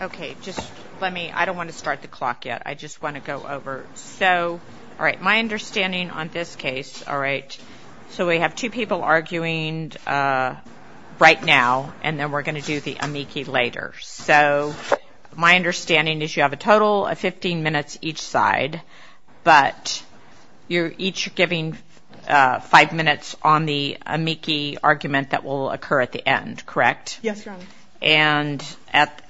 Okay, just let me, I don't want to start the clock yet. I just want to go over. So, all right, my understanding on this case, all right, so we have two people arguing right now, and then we're going to do the amici later. So, my understanding is you have a total of 15 minutes each side, but you're each giving five minutes on the amici argument that will occur at the end, correct? Yes, Your Honor. And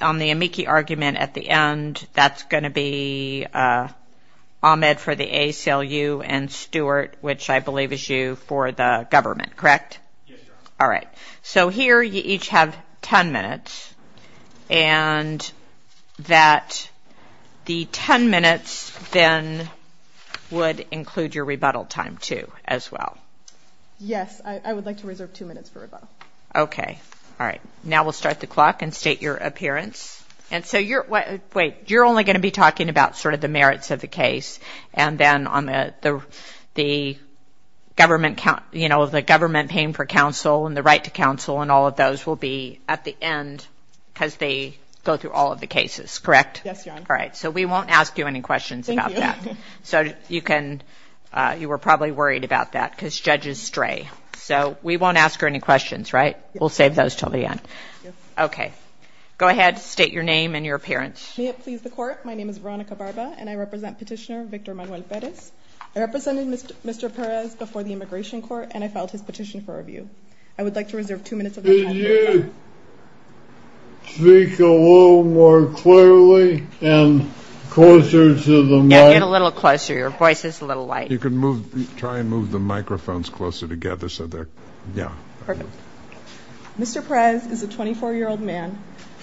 on the amici argument at the end, that's going to be Ahmed for the ACLU and Stuart, which I believe is you, for the government, correct? Yes, Your Honor. All right. So, here you each have 10 minutes, and that the 10 minutes then would include your rebuttal time, too, as well. Yes, I would like to reserve two minutes for rebuttal. Okay. All right. Now we'll start the clock and state your appearance. And so you're, wait, you're only going to be talking about sort of the merits of the case, and then on the government, you know, the government paying for counsel and the right to counsel and all of those will be at the end because they go through all of the cases, correct? All right. So, we won't ask you any questions about that. So, you can, you were probably worried about that because judges stray. So, we won't ask her any questions, right? We'll save those until the end. Okay. Go ahead, state your name and your appearance. May it please the Court, my name is Veronica Barba, and I represent Petitioner Victor Manuel Perez. I represented Mr. Perez before the Immigration Court, and I filed his petition for review. I would like to reserve two minutes of my time. Could you speak a little more clearly and closer to the mic? Yeah, a little closer. Your voice is a little light. You can move, try and move the microphones closer together so they're, yeah. Mr. Perez is a 24-year-old man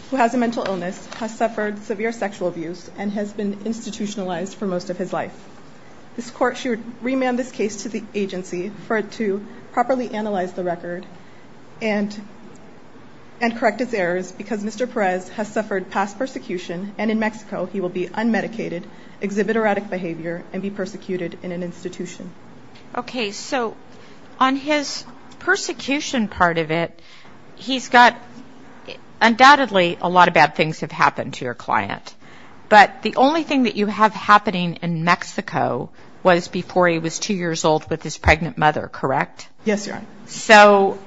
who has a mental illness, has suffered severe sexual abuse, and has been institutionalized for most of his life. This Court should remand this case to the agency for it to properly analyze the record and correct its errors because Mr. Perez has suffered past persecution, and in Mexico, he will be unmedicated, exhibit erratic behavior, and be persecuted in an institution. Okay, so on his persecution part of it, he's got, undoubtedly, a lot of bad things have happened to your client. But the only thing that you have happening in Mexico was before he was two years old with his pregnant mother, correct? Yes, ma'am. So,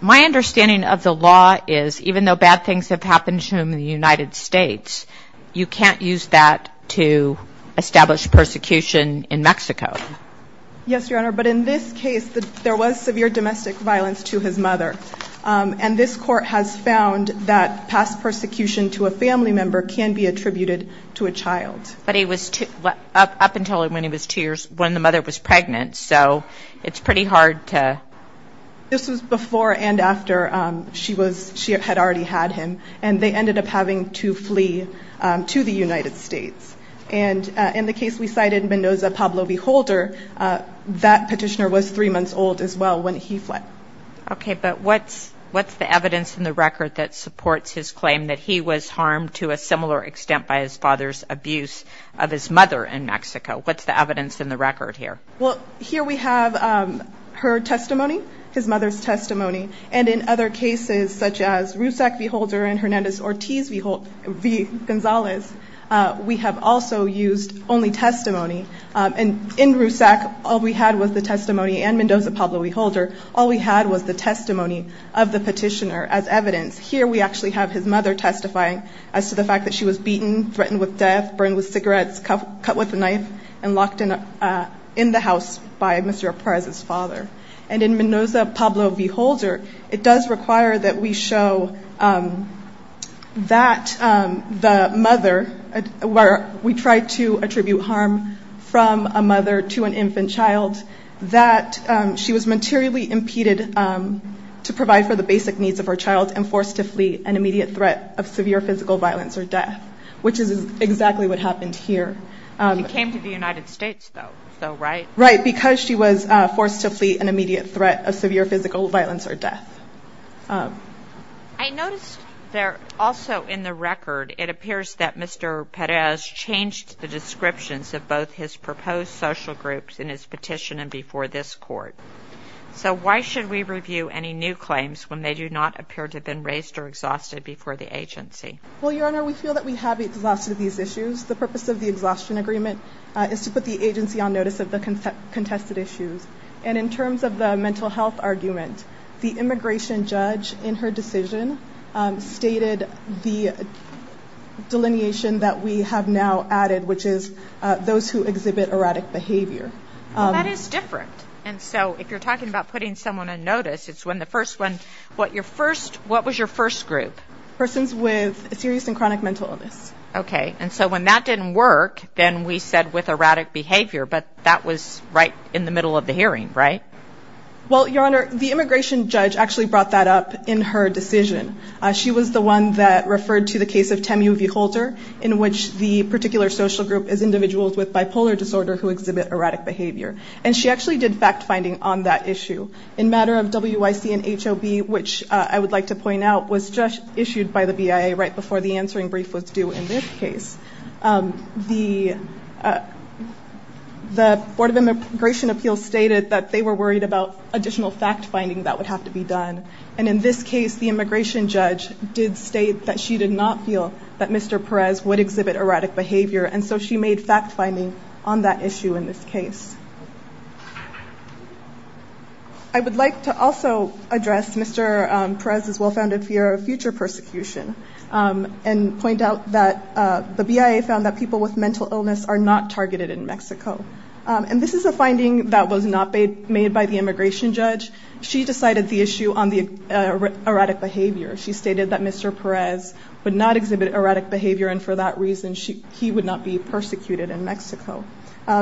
my understanding of the law is even though bad things have happened to him in the United States, you can't use that to establish persecution in Mexico. Yes, Your Honor, but in this case, there was severe domestic violence to his mother, and this Court has found that past persecution to a family member can be attributed to a child. But up until when the mother was pregnant, so it's pretty hard to... This was before and after she had already had him, and they ended up having to flee to the United States. And in the case we cited, Mendoza Pablo V. Holder, that petitioner was three months old as well when he fled. Okay, but what's the evidence in the record that supports his claim that he was harmed to a similar extent by his father's abuse of his mother in Mexico? What's the evidence in the record here? Well, here we have her testimony, his mother's testimony. And in other cases, such as RUSAC v. Holder and Hernandez Ortiz v. Gonzalez, we have also used only testimony. In RUSAC, all we had was the testimony, and Mendoza Pablo V. Holder, all we had was the testimony of the petitioner as evidence. Here we actually have his mother testifying as to the fact that she was beaten, threatened with death, burned with cigarettes, cut with a knife, and locked in the house by Mr. Ortiz's father. And in Mendoza Pablo V. Holder, it does require that we show that the mother, where we tried to attribute harm from a mother to an infant child, that she was materially impeded to provide for the basic needs of her child and forced to flee an immediate threat of severe physical violence or death, which is exactly what happened here. She came to the United States though, so right? Right, because she was forced to flee an immediate threat of severe physical violence or death. I noticed there also in the record, it appears that Mr. Perez changed the descriptions of both his proposed social groups in his petition and before this court. So why should we review any new claims when they do not appear to have been raised or exhausted before the agency? Well, Your Honor, we feel that we have exhausted these issues. The purpose of the exhaustion agreement is to put the agency on notice of the contested issues. And in terms of the mental health argument, the immigration judge in her decision stated the delineation that we have now added, which is those who exhibit erratic behavior. That is different. And so if you're talking about putting someone on notice, it's when the first one, what was your first group? Persons with a serious and chronic mental illness. Okay, and so when that didn't work, then we said with erratic behavior, but that was right in the middle of the hearing, right? Well, Your Honor, the immigration judge actually brought that up in her decision. She was the one that referred to the case of Temu V. Holter, in which the particular social group is individuals with bipolar disorder who exhibit erratic behavior. And she actually did fact-finding on that issue. In matter of WIC and HOB, which I would like to point out was just issued by the BIA right before the answering brief was due in this case. The Board of Immigration Appeals stated that they were worried about additional fact-finding that would have to be done. And in this case, the immigration judge did state that she did not feel that Mr. Perez would exhibit erratic behavior. And so she made fact-finding on that issue in this case. I would like to also address Mr. Perez's well-founded fear of future persecution and point out that the BIA found that people with mental illness are not targeted in Mexico. And this is a finding that was not made by the immigration judge. She decided the issue on the erratic behavior. She stated that Mr. Perez would not exhibit erratic behavior and for that reason he would not be persecuted in Mexico.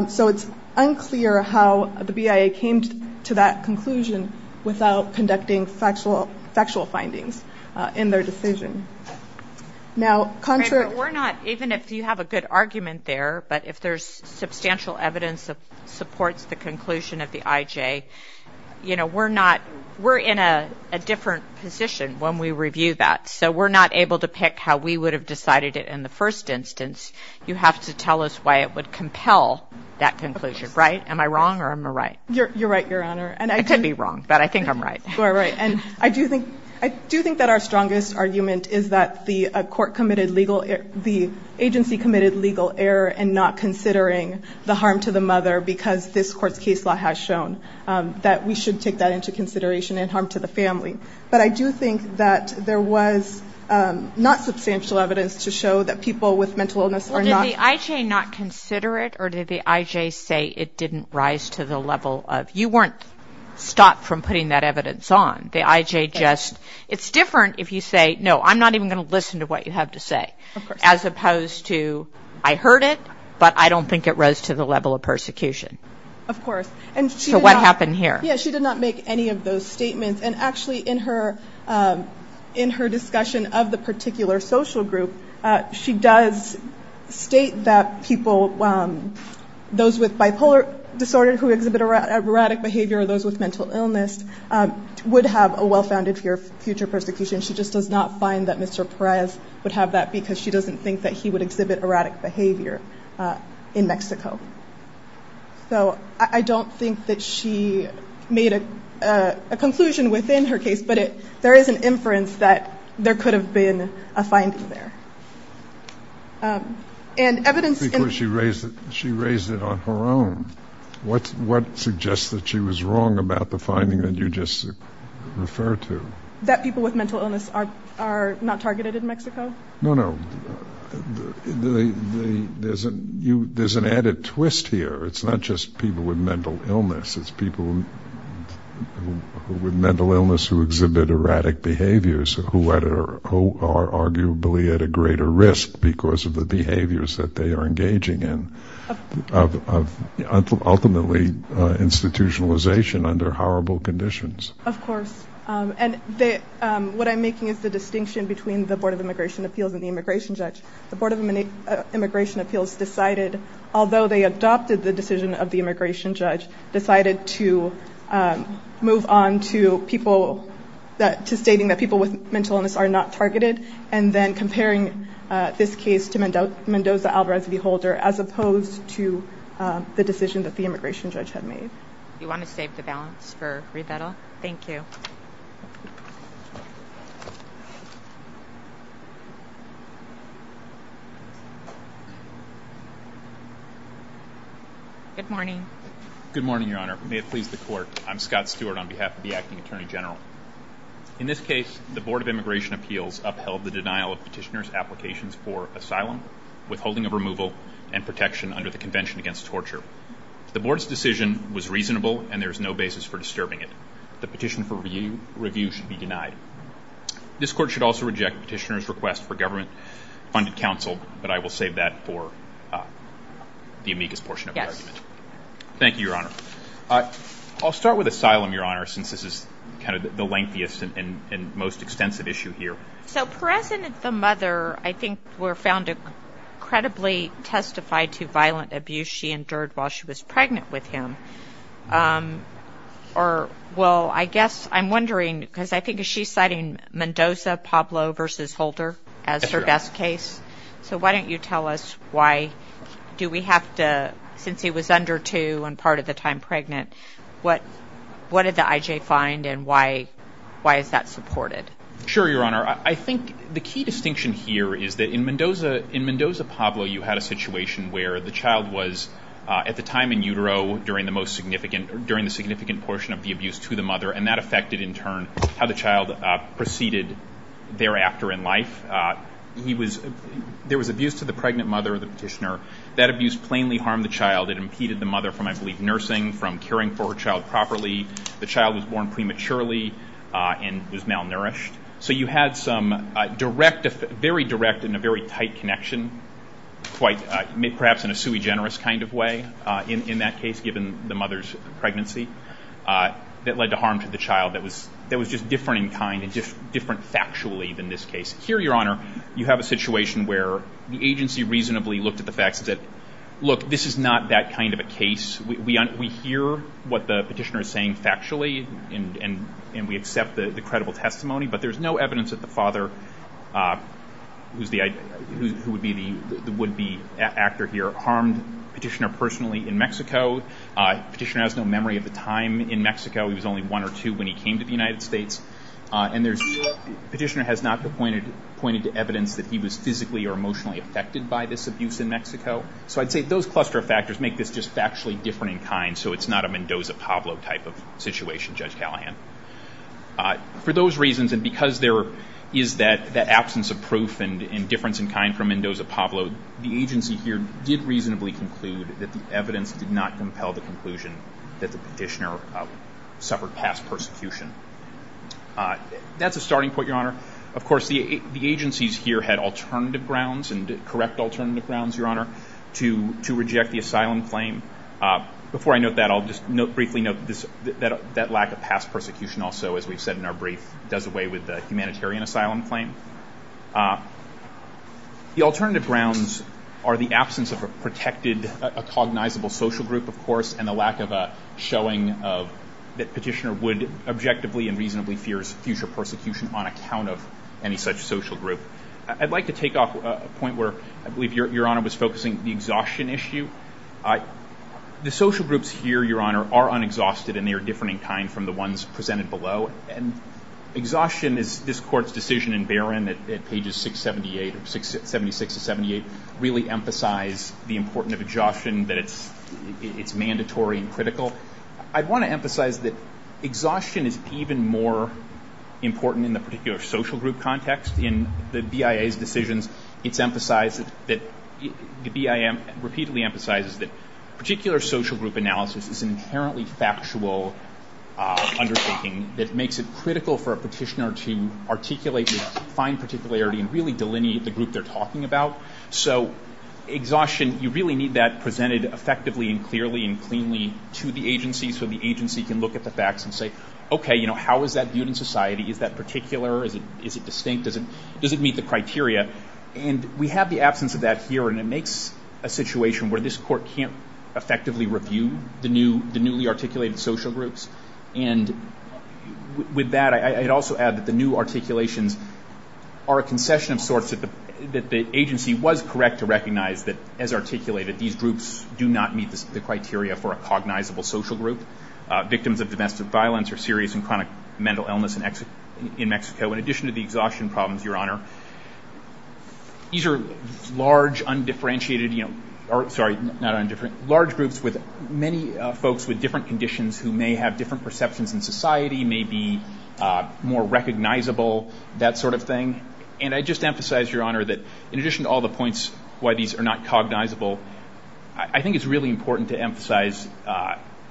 So it's unclear how the BIA came to that conclusion without conducting factual findings in their decision. Even if you have a good argument there, but if there's substantial evidence that supports the conclusion of the IJ, we're in a different position when we review that. So we're not able to pick how we would have decided it in the first instance. You have to tell us why it would compel that conclusion, right? Am I wrong or am I right? You're right, Your Honor. I could be wrong, but I think I'm right. I do think that our strongest argument is that the agency committed legal error in not considering the harm to the mother because this court's case law has shown that we should take that into consideration and harm to the family. But I do think that there was not substantial evidence to show that people with mental illness are not- Did the IJ not consider it or did the IJ say it didn't rise to the level of- You weren't stopped from putting that evidence on. The IJ just- It's different if you say, no, I'm not even going to listen to what you have to say. As opposed to, I heard it, but I don't think it rose to the level of persecution. Of course. So what happened here? Yeah, she did not make any of those statements. And actually, in her discussion of the particular social group, she does state that people, those with bipolar disorder who exhibit erratic behavior, those with mental illness, would have a well-founded fear of future persecution. She just does not find that Mr. Perez would have that because she doesn't think that he would exhibit erratic behavior in Mexico. So I don't think that she made a conclusion within her case, but there is an inference that there could have been a finding there. Because she raised it on her own. What suggests that she was wrong about the finding that you just referred to? That people with mental illness are not targeted in Mexico? No, no. There's an added twist here. It's not just people with mental illness. It's people with mental illness who exhibit erratic behaviors who are arguably at a greater risk because of the behaviors that they are engaging in. Ultimately, institutionalization under horrible conditions. Of course. What I'm making is the distinction between the Board of Immigration Appeals and the Immigration Judge. The Board of Immigration Appeals decided, although they adopted the decision of the Immigration Judge, decided to move on to stating that people with mental illness are not targeted, and then comparing this case to Mendoza-Alvarez v. Holder as opposed to the decision that the Immigration Judge had made. Do you want to save the balance for Rosetta? Thank you. Good morning. Good morning, Your Honor. May it please the Court. I'm Scott Stewart on behalf of the Acting Attorney General. In this case, the Board of Immigration Appeals upheld the denial of petitioner's applications for asylum, withholding of removal, and protection under the Convention Against Torture. The Board's decision was reasonable, and there is no basis for disturbing it. The petition for review should be denied. This Court should also reject petitioner's request for government-funded counsel, but I will save that for the amicus portion of the argument. Thank you, Your Honor. I'll start with asylum, Your Honor, since this is kind of the lengthiest and most extensive issue here. So Perez and the mother, I think, were found to credibly testify to violent abuse she endured while she was pregnant with him. Or, well, I guess I'm wondering, because I think she's citing Mendoza-Pablo v. Holder as her best case. So why don't you tell us why do we have to, since he was under two and part of the time pregnant, what did the IJ find and why is that supported? Sure, Your Honor. I think the key distinction here is that in Mendoza-Pablo, you had a situation where the child was, at the time in utero, during the significant portion of the abuse to the mother, and that affected, in turn, how the child proceeded thereafter in life. There was abuse to the pregnant mother, the petitioner. That abuse plainly harmed the child. It impeded the mother from, I believe, nursing, from caring for her child properly. The child was born prematurely and was malnourished. So you had some very direct and a very tight connection, perhaps in a sui generis kind of way in that case, given the mother's pregnancy that led to harm to the child that was just different in kind and different factually than this case. Here, Your Honor, you have a situation where the agency reasonably looked at the facts and said, look, this is not that kind of a case. We hear what the petitioner is saying factually, and we accept the credible testimony, but there's no evidence that the father, who would be the actor here, harmed the petitioner personally in Mexico. The petitioner has no memory of the time in Mexico. He was only one or two when he came to the United States. And the petitioner has not pointed to evidence that he was physically or emotionally affected by this abuse in Mexico. So I'd say those cluster of factors make this just factually different in kind, so it's not a Mendoza-Pablo type of situation, Judge Callahan. For those reasons, and because there is that absence of proof and difference in kind from Mendoza-Pablo, the agency here did reasonably conclude that the evidence did not compel the conclusion that the petitioner suffered past persecution. That's a starting point, Your Honor. Of course, the agencies here had alternative grounds and correct alternative grounds, Your Honor, to reject the asylum claim. Before I note that, I'll just briefly note that lack of past persecution also, as we've said in our brief, does away with the humanitarian asylum claim. The alternative grounds are the absence of a protected, a cognizable social group, of course, and the lack of a showing that petitioner would objectively and reasonably fears future persecution on account of any such social group. I'd like to take off a point where I believe Your Honor was focusing the exhaustion issue. The social groups here, Your Honor, are unexhausted and they are different in kind from the ones presented below. And exhaustion is this Court's decision in Barron at pages 678, 76 to 78, where they really emphasize the importance of exhaustion, that it's mandatory and critical. I want to emphasize that exhaustion is even more important in the particular social group context. In the BIA's decision, it's emphasized that the BIA repeatedly emphasizes that particular social group analysis is an inherently factual understanding that makes it critical for a petitioner to articulate this fine particularity and really delineate the group they're talking about. So exhaustion, you really need that presented effectively and clearly and cleanly to the agency so the agency can look at the facts and say, okay, you know, how is that viewed in society? Is that particular? Is it distinct? Does it meet the criteria? And we have the absence of that here and it makes a situation where this Court can't effectively review the newly articulated social groups. And with that, I'd also add that the new articulations are a concession of sorts that the agency was correct to recognize that as articulated, these groups do not meet the criteria for a cognizable social group. Victims of domestic violence are serious and chronic mental illness in Mexico. In addition to the exhaustion problems, Your Honor, these are large, undifferentiated, sorry, not undifferentiated, large groups with many folks with different conditions who may have different perceptions in society, may be more recognizable, that sort of thing. And I just emphasize, Your Honor, that in addition to all the points why these are not cognizable, I think it's really important to emphasize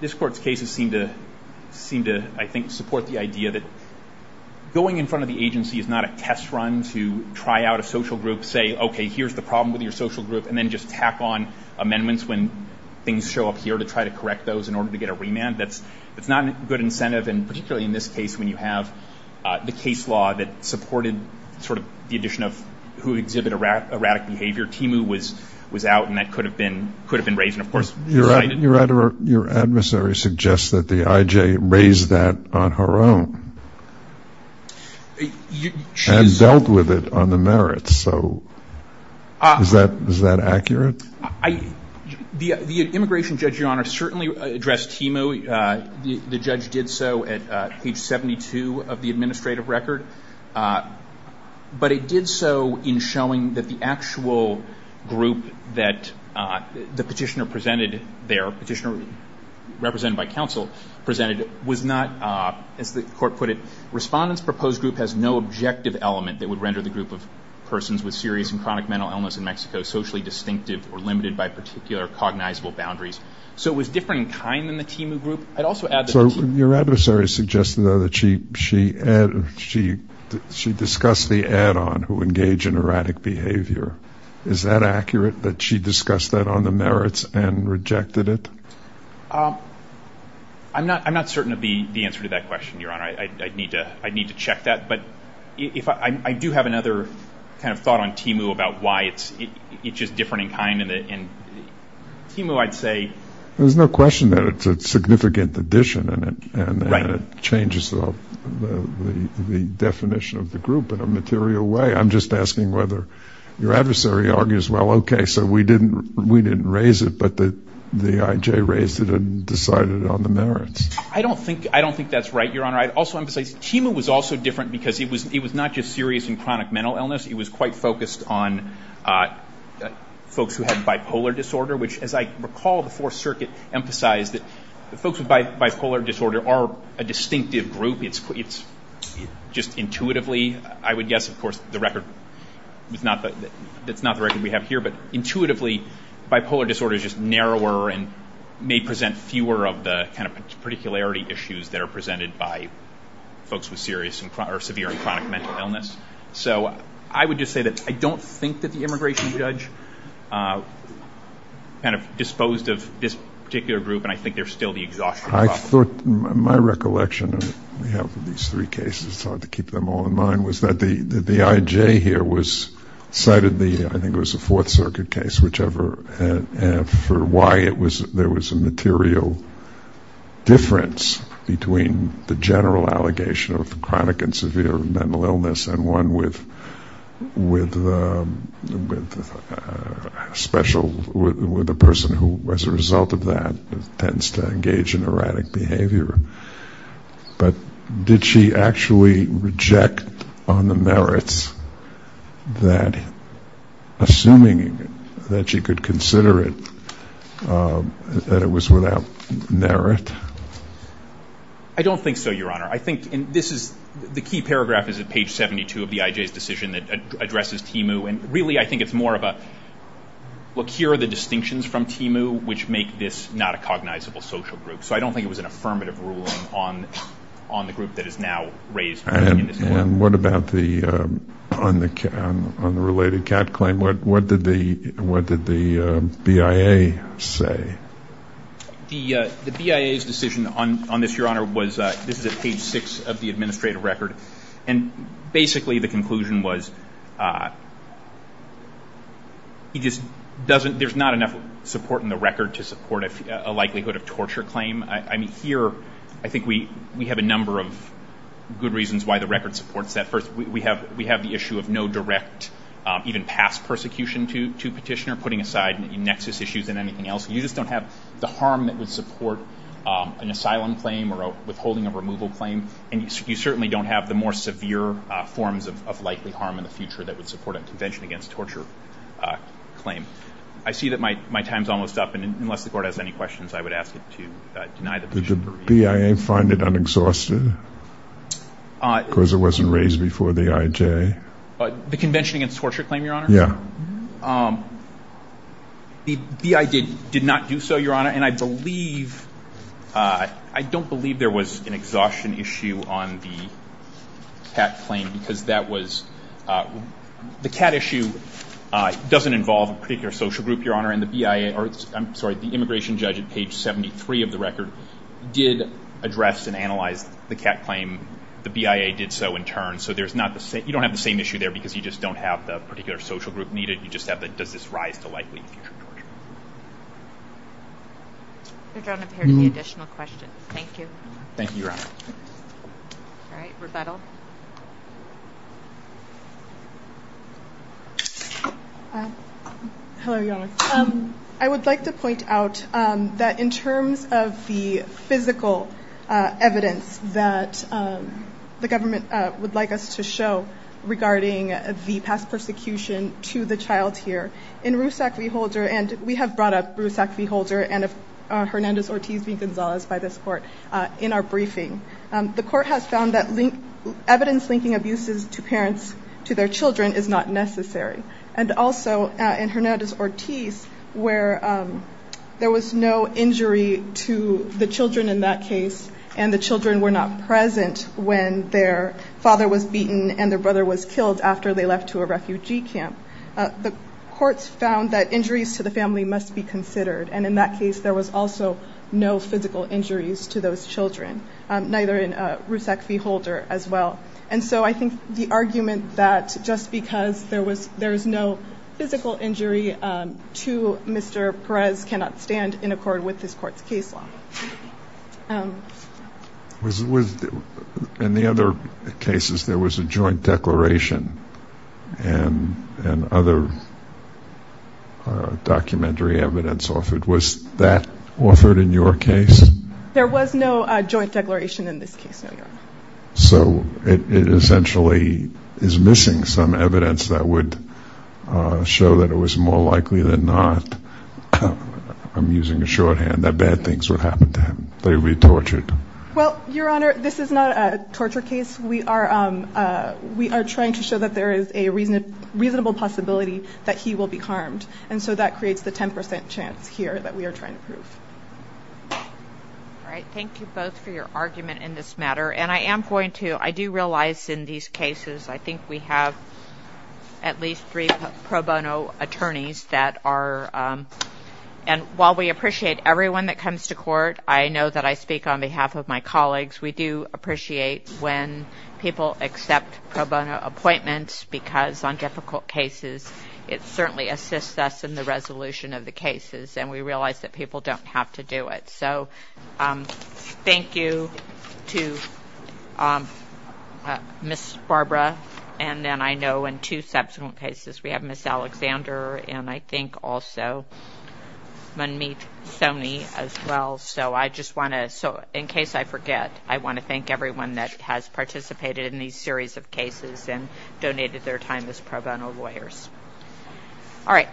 this Court's cases seem to, I think, support the idea that going in front of the agency is not a test run to try out a social group, say, okay, here's the problem with your social group, and then just tack on amendments when things show up here to try to correct those in order to get a remand. That's not a good incentive, and particularly in this case when you have the case law that supported sort of the addition of who exhibit erratic behavior. Timu was out and that could have been raised, and of course, you're right. Your adversary suggests that the IJ raised that on her own and dealt with it on the merits. So is that accurate? The immigration judge, Your Honor, certainly addressed Timu. The judge did so at page 72 of the administrative record, but it did so in showing that the actual group that the petitioner presented there, a petitioner represented by counsel, presented was not, as the Court put it, respondent's proposed group has no objective element that would render the group of persons with serious and chronic mental illness in Mexico socially distinctive or limited by particular cognizable boundaries. So it was different in kind than the Timu group. So your adversary suggested, though, that she discussed the add-on, who engage in erratic behavior. Is that accurate, that she discussed that on the merits and rejected it? I'm not certain of the answer to that question, Your Honor. I'd need to check that. But I do have another kind of thought on Timu about why it's just different in kind. There's no question that it's a significant addition and it changes the definition of the group in a material way. I'm just asking whether your adversary argues, well, okay, so we didn't raise it, but the IJ raised it and decided on the merits. I don't think that's right, Your Honor. Also, I'm going to say Timu was also different because it was not just serious and chronic mental illness. It was quite focused on folks who had bipolar disorder, which, as I recall, the Fourth Circuit emphasized that folks with bipolar disorder are a distinctive group. It's just intuitively, I would guess, of course, the record is not the record we have here, but intuitively bipolar disorder is just narrower and may present fewer of the kind of particularity issues that are presented by folks with severe and chronic mental illness. So I would just say that I don't think that the immigration judge kind of disposed of this particular group, and I think there's still the exhaustion problem. My recollection of these three cases, it's hard to keep them all in mind, was that the IJ here cited the, I think it was the Fourth Circuit case, for why there was a material difference between the general allegation of chronic and severe mental illness and one with a person who, as a result of that, tends to engage in erratic behavior. But did she actually reject on the merits that, assuming that she could consider it, that it was without merit? I don't think so, Your Honor. I think, and this is, the key paragraph is at page 72 of the IJ's decision that addresses TMU, and really I think it's more of a, look, here are the distinctions from TMU, which make this not a cognizable social group. So I don't think it was an affirmative ruling on the group that is now raised. And what about the, on the related CAT claim, what did the BIA say? The BIA's decision on this, Your Honor, was, this is page six of the administrative record, and basically the conclusion was, he just doesn't, there's not enough support in the record to support a likelihood of torture claim. I mean, here, I think we have a number of good reasons why the record supports that. First, we have the issue of no direct, even past, persecution to petitioner, putting aside maybe nexus issues than anything else. You just don't have the harm that would support an asylum claim or withholding a removal claim, and you certainly don't have the more severe forms of likely harm in the future that would support a convention against torture claim. I see that my time's almost up, and unless the Court has any questions, I would ask it to deny the brief. Did the BIA find it unexhausted? Because it wasn't raised before the IJ? The convention against torture claim, Your Honor? Yeah. The BIA did not do so, Your Honor, and I believe, I don't believe there was an exhaustion issue on the CAT claim, because that was, the CAT issue doesn't involve a particular social group, Your Honor, and the BIA, I'm sorry, the immigration judge at page 73 of the record did address and analyze the CAT claim. The BIA did so in turn, so there's not the same, you don't have the same issue there I think if you just don't have the particular social group needed, you just have the right to likely be tortured. If there are no additional questions, thank you. Thank you, Your Honor. All right, rebuttal. Hello, Your Honor. I would like to point out that in terms of the physical evidence that the government would like us to show regarding the past persecution to the child here, in Roussack v. Holder, and we have brought up Roussack v. Holder and Hernandez-Ortiz v. Gonzalez by this court in our briefing, the court has found that evidence linking abuses to parents, to their children, is not necessary. And also, in Hernandez-Ortiz, where there was no injury to the children in that case, and the children were not present when their father was beaten and their brother was killed after they left to a refugee camp, the courts found that injuries to the family must be considered. And in that case, there was also no physical injuries to those children, neither in Roussack v. Holder as well. And so I think the argument that just because there is no physical injury to Mr. Perez does not stand in accord with this court's case law. In the other cases, there was a joint declaration and other documentary evidence offered. Was that offered in your case? There was no joint declaration in this case, Your Honor. So it essentially is missing some evidence that would show that it was more likely than not. I'm using a shorthand, that bad things would happen to him, that he would be tortured. Well, Your Honor, this is not a torture case. We are trying to show that there is a reasonable possibility that he will be harmed, and so that creates the 10 percent chance here that we are trying to prove. All right. Thank you both for your argument in this matter. And I am going to ñ I do realize in these cases, I think we have at least three pro bono attorneys that are ñ and while we appreciate everyone that comes to court, I know that I speak on behalf of my colleagues. We do appreciate when people accept pro bono appointments because on difficult cases, it certainly assists us in the resolution of the cases. And we realize that people don't have to do it. So thank you to Ms. Barbara. And then I know in two subsequent cases, we have Ms. Alexander and I think also Monique Stoney as well. So I just want to ñ so in case I forget, I want to thank everyone that has participated in these series of cases and donated their time as pro bono lawyers. All right.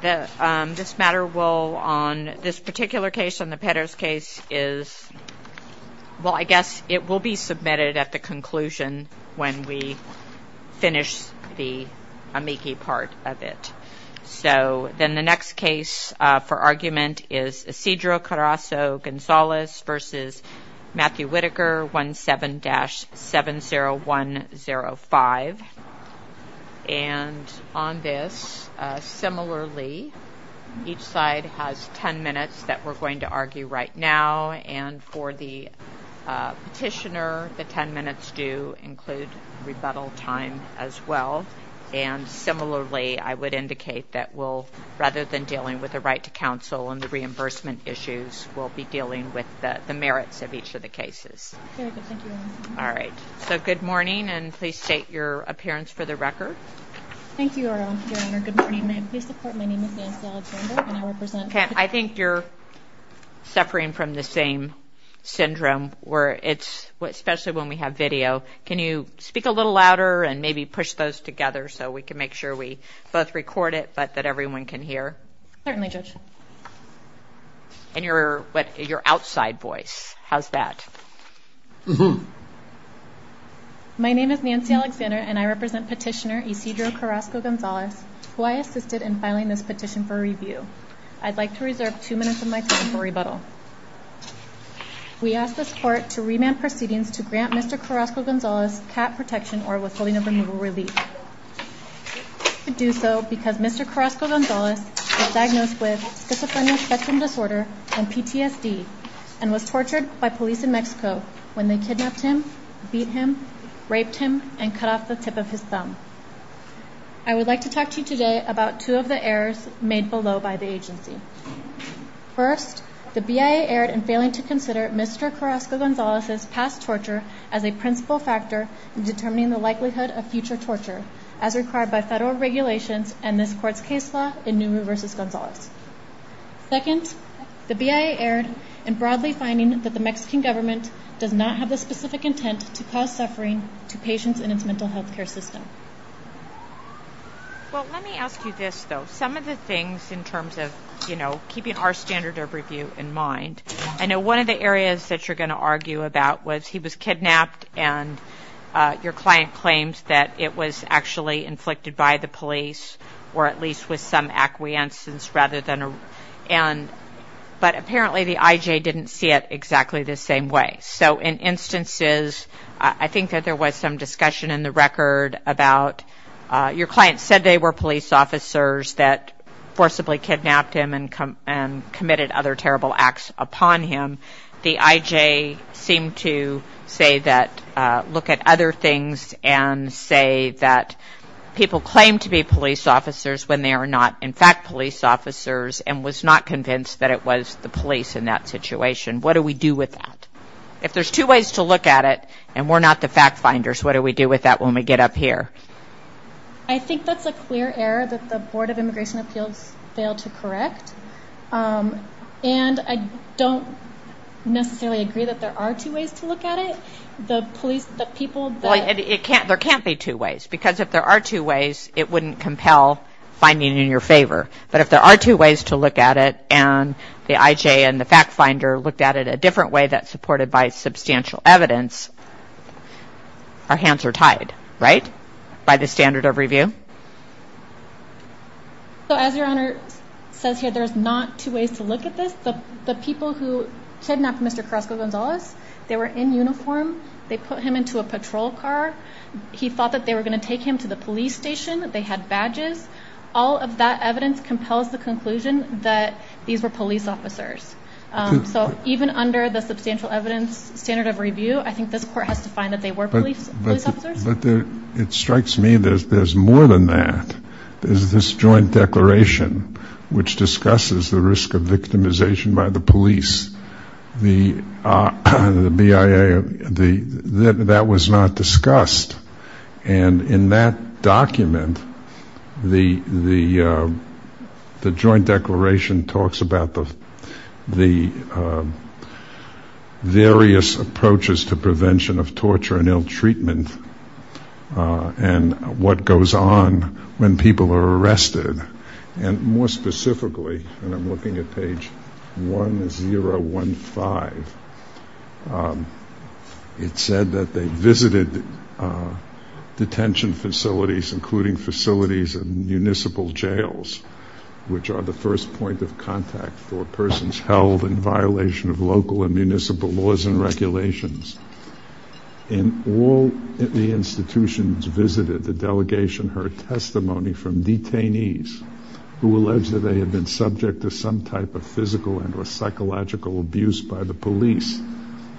This matter will ñ on this particular case, on the Petters case, is ñ well, I guess it will be submitted at the conclusion when we finish the amici part of it. So then the next case for argument is Isidro Carraso Gonzalez v. Matthew Whitaker, 17-70105. And on this, similarly, each side has ten minutes that we're going to argue right now. And for the petitioner, the ten minutes do include rebuttal time as well. And similarly, I would indicate that we'll ñ rather than dealing with the right to counsel and the reimbursement issues, we'll be dealing with the merits of each of the cases. All right. So good morning, and please state your appearance for the record. Thank you, Aurora. Good morning. My name is Angela Alexander. Okay. I think you're suffering from the same syndrome where it's ñ especially when we have video. Can you speak a little louder and maybe push those together so we can make sure we both record it but that everyone can hear? Certainly, Judge. And your outside voice, how's that? My name is Nancy Alexander, and I represent petitioner Isidro Carraso Gonzalez, who I assisted in filing this petition for review. I'd like to reserve two minutes of my time for rebuttal. We ask the court to remand proceedings to grant Mr. Carraso Gonzalez cat protection or withholding of removal relief. We do so because Mr. Carraso Gonzalez was diagnosed with schizophrenia spectrum disorder and PTSD and was tortured by police in Mexico when they kidnapped him, beat him, raped him, and cut off the tip of his thumb. I would like to talk to you today about two of the errors made below by the agency. First, the BIA erred in failing to consider Mr. Carraso Gonzalez's past torture as a principal factor in determining the likelihood of future torture as required by federal regulations and this court's case law in Nuru versus Gonzalez. Second, the BIA erred in broadly finding that the Mexican government does not have the specific intent to cause suffering to patients in its mental health care system. Well, let me ask you this, though. Some of the things in terms of, you know, keeping our standard of review in mind, I know one of the areas that you're going to argue about was he was kidnapped and your client claims that it was actually inflicted by the police or at least with some acquiescence rather than a but apparently the IJ didn't see it exactly the same way. So in instances, I think that there was some discussion in the record about your client said they were police officers that forcibly kidnapped him and committed other terrible acts upon him. The IJ seemed to say that, look at other things and say that people claim to be police officers when they are not in fact police officers and was not convinced that it was the police in that situation. What do we do with that? If there's two ways to look at it and we're not the fact finders, what do we do with that when we get up here? I think that's a clear error that the Board of Immigration Appeals failed to correct. And I don't necessarily agree that there are two ways to look at it. There can't be two ways because if there are two ways, it wouldn't compel finding it in your favor. But if there are two ways to look at it and the IJ and the fact finder looked at it a different way that supported by substantial evidence, our hands were tied, right, by the standard of review? So as your Honor says here, there's not two ways to look at this. The people who kidnapped Mr. Carrasco Gonzalez, they were in uniform. They put him into a patrol car. He thought that they were going to take him to the police station. They had badges. All of that evidence compels the conclusion that these were police officers. So even under the substantial evidence standard of review, I think this court has to find that they were police officers. But it strikes me that there's more than that. There's this joint declaration which discusses the risk of victimization by the police, the BIA. That was not discussed. And in that document, the joint declaration talks about the various approaches to prevention of torture and ill treatment and what goes on when people are arrested. And more specifically, when I'm looking at page 1015, it said that they visited detention facilities, including facilities in municipal jails, which are the first point of contact for persons held in violation of local and municipal laws and regulations. And all the institutions visited the delegation heard testimony from detainees who alleged that they had been subject to some type of physical and or psychological abuse by the police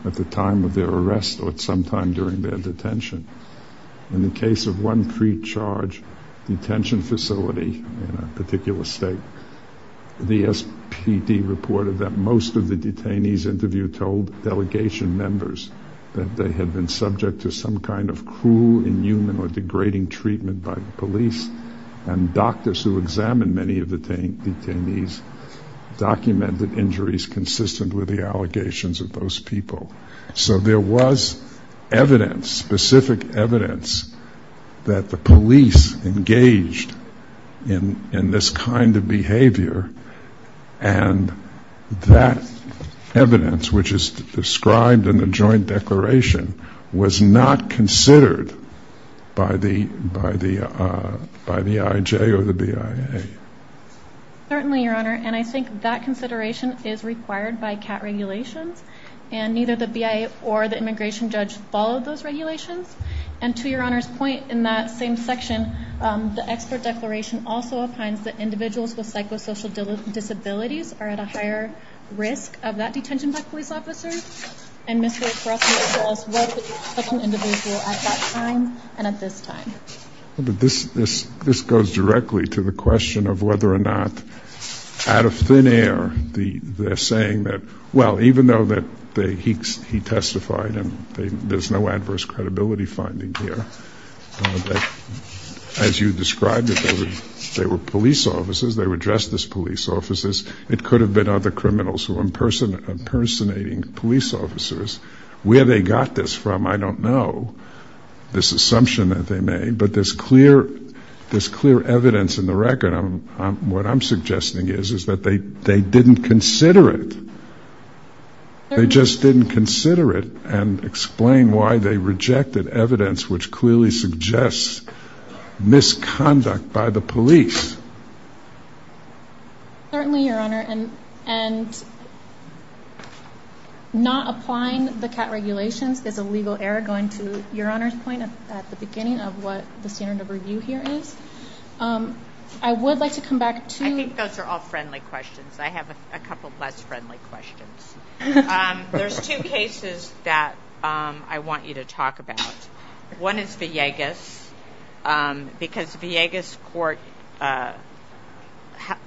at the time of their arrest or at some time during their detention. In the case of one pre-charged detention facility in a particular state, the SPD reported that most of the detainees interviewed told delegation members that they had been subject to some kind of cruel, inhuman, or degrading treatment by the police. And doctors who examined many of the detainees documented injuries consistent with the allegations of those people. So there was evidence, specific evidence, that the police engaged in this kind of behavior and that evidence, which is described in the joint declaration, was not considered by the IJ or the BIA. Certainly, Your Honor, and I think that consideration is required by CAT regulations and neither the BIA or the immigration judge followed those regulations. And to Your Honor's point, in that same section, the expert declaration also assigns that individuals with psychosocial disabilities are at a higher risk of that detention by police officers and Mr. O'Rourke made sure as well that it was an individual at that time and at this time. This goes directly to the question of whether or not, out of thin air, they're saying that, well, even though he testified, and there's no adverse credibility finding here, that as you described it, they were police officers, they were justice police officers, it could have been other criminals who were impersonating police officers. Where they got this from, I don't know, this assumption that they made, but there's clear evidence in the record. What I'm suggesting is that they didn't consider it. They just didn't consider it and explain why they rejected evidence which clearly suggests misconduct by the police. Certainly, Your Honor, and not applying the CAT regulations, there's a legal error going to Your Honor's point at the beginning of what the standard of review here is. I would like to come back to... I think those are all friendly questions. I have a couple of less friendly questions. There's two cases that I want you to talk about. One is Villegas because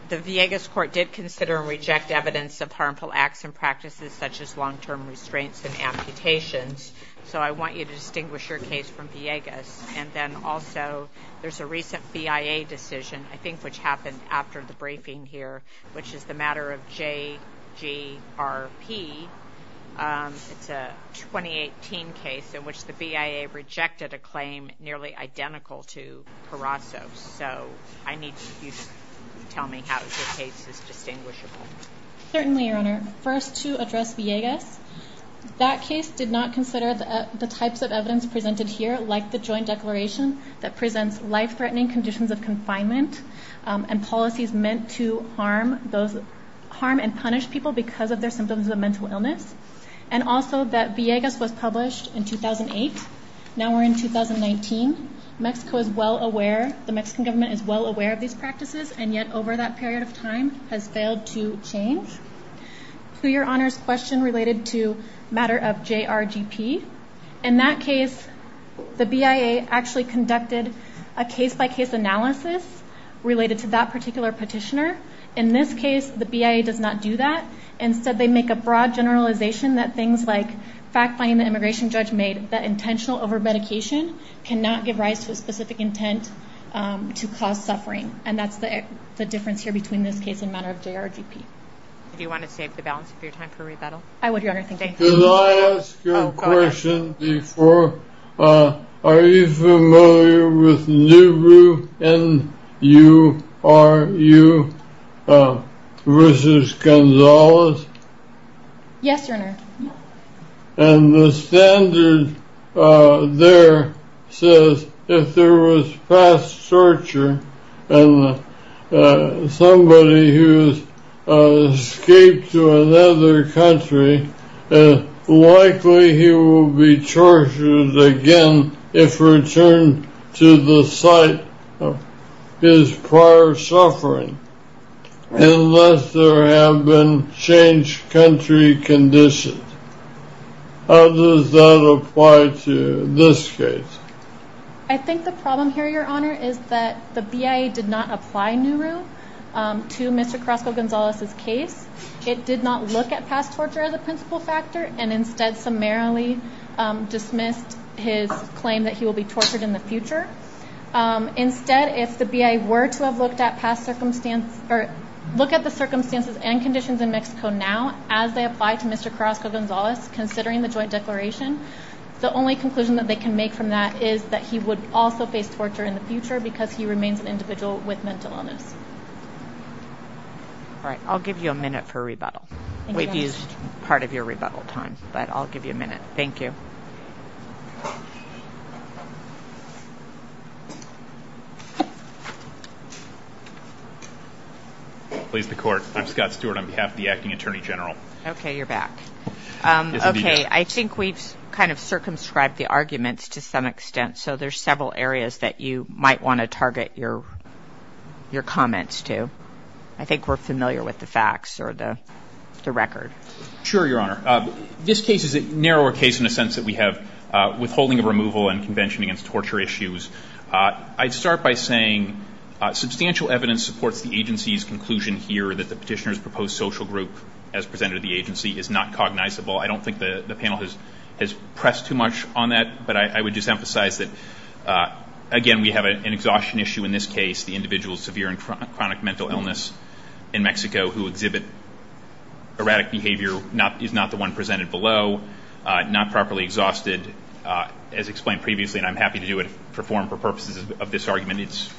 the Villegas court did consider and reject evidence of harmful acts and practices such as long-term restraints and amputations. So I want you to distinguish your case from Villegas. And then also, there's a recent BIA decision, I think which happened after the briefing here, which is the matter of JGRP. It's a 2018 case in which the BIA rejected a claim nearly identical to Carrasco's. So I need you to tell me how this case is distinguishable. Certainly, Your Honor. First, to address Villegas, that case did not consider the types of evidence presented here, like the joint declaration that presents life-threatening conditions of confinement and policies meant to harm and punish people because of their symptoms of mental illness, and also that Villegas was published in 2008. Now we're in 2019. Mexico is well aware, the Mexican government is well aware of these practices, and yet over that period of time has failed to change. To Your Honor's question related to matter of JRGP, in that case, the BIA actually conducted a case-by-case analysis related to that particular petitioner. In this case, the BIA does not do that. Instead, they make a broad generalization that things like fact-finding the immigration judge made that intentional over-medication cannot give rise to specific intent to cause suffering. And that's the difference here between this case and matter of JRGP. Do you want to save the balance of your time for rebuttal? I would, Your Honor. Can I ask a question before? Are you familiar with NURU, N-U-R-U, versus Gonzales? Yes, Your Honor. And the standard there says if there was fast torture, and somebody who escaped to another country, likely he will be tortured again if returned to the site of his prior suffering, unless there have been changed country conditions. How does that apply to this case? I think the problem here, Your Honor, is that the BIA did not apply NURU to Mr. Caruso Gonzales' case. It did not look at fast torture as a principle factor, and instead summarily dismissed his claim that he will be tortured in the future. Instead, if the BIA were to have looked at the circumstances and conditions in Mexico now, as they apply to Mr. Caruso Gonzales, considering the joint declaration, the only conclusion that they can make from that is that he would also face torture in the future because he remains an individual with mental illness. All right. I'll give you a minute for rebuttal. We've used part of your rebuttal time, but I'll give you a minute. Thank you. Okay. I think we've kind of circumscribed the arguments to some extent, so there's several areas that you might want to target your comments to. I think we're familiar with the facts or the record. Sure, Your Honor. This case is a narrower case in the sense that we have withholding of removal and convention against torture issues. I'd start by saying substantial evidence supports the agency's conclusion here that the petitioner's proposed social group as presented to the agency is not cognizable. I don't think the panel has pressed too much on that, but I would just emphasize that, again, we have an exhaustion issue in this case, the individual with severe and chronic mental illness in Mexico who exhibits erratic behavior, is not the one presented below, not properly exhausted, as explained previously, and I'm happy to do a forum for purposes of this argument.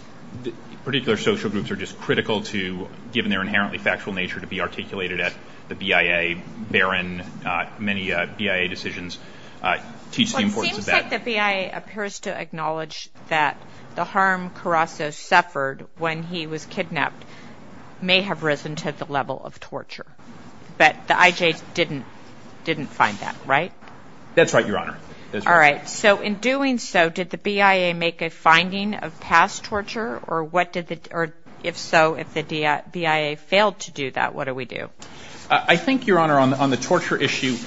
Particular social groups are just critical to, given their inherently factual nature, to be articulated at the BIA. Therein, many BIA decisions teach the importance of that. Well, it seems like the BIA appears to acknowledge that the harm Caracas suffered when he was kidnapped may have risen to the level of torture, but the IJ didn't find that, right? That's right, Your Honor. All right, so in doing so, did the BIA make a finding of past torture, or if so, if the BIA failed to do that, what do we do? I think, Your Honor, on the torture issue,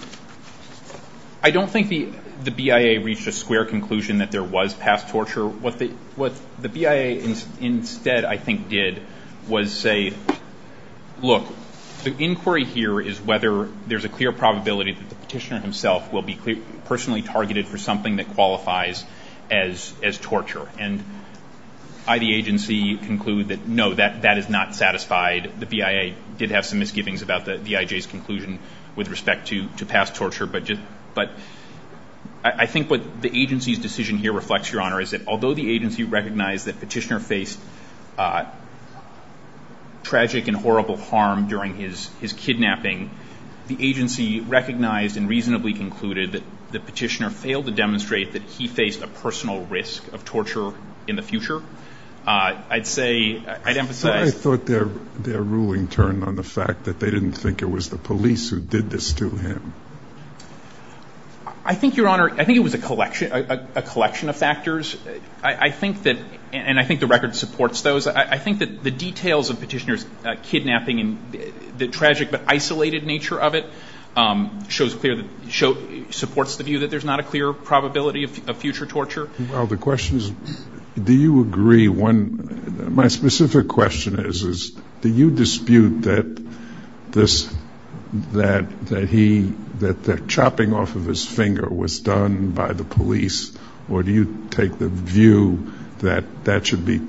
I don't think the BIA reached a square conclusion that there was past torture. What the BIA instead, I think, did was say, look, the inquiry here is whether there's a clear probability that the petitioner himself will be personally targeted for something that qualifies as torture, and I, the agency, conclude that no, that is not satisfied. The BIA did have some misgivings about the IJ's conclusion with respect to past torture, is that although the agency recognized that the petitioner faced tragic and horrible harm during his kidnapping, the agency recognized and reasonably concluded that the petitioner failed to demonstrate that he faced a personal risk of torture in the future. I'd say, I'd emphasize- I thought their ruling turned on the fact that they didn't think it was the police who did this to him. I think, Your Honor, I think it was a collection of factors. I think that, and I think the record supports those, I think that the details of petitioner's kidnapping and the tragic but isolated nature of it supports the view that there's not a clear probability of future torture. Well, the question is, do you agree when- My specific question is, do you dispute that this, that he, that the chopping off of his finger was done by the police, or do you take the view that that should be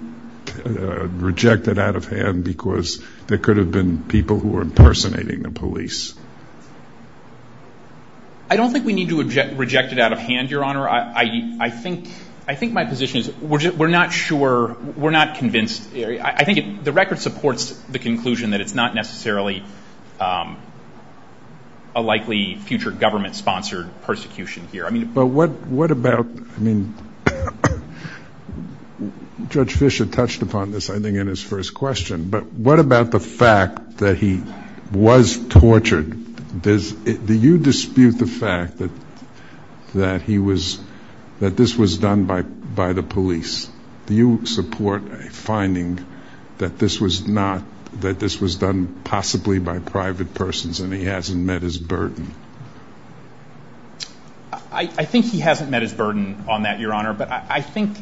rejected out of hand because there could have been people who were impersonating the police? I don't think we need to reject it out of hand, Your Honor. I think my position is we're not sure, we're not convinced. I think the record supports the conclusion that it's not necessarily a likely future government-sponsored persecution here. But what about, I mean, Judge Fischer touched upon this, I think, in his first question, but what about the fact that he was tortured? Do you dispute the fact that he was, that this was done by the police? Do you support a finding that this was not, that this was done possibly by private persons and he hasn't met his burden? I think he hasn't met his burden on that, Your Honor. But I think,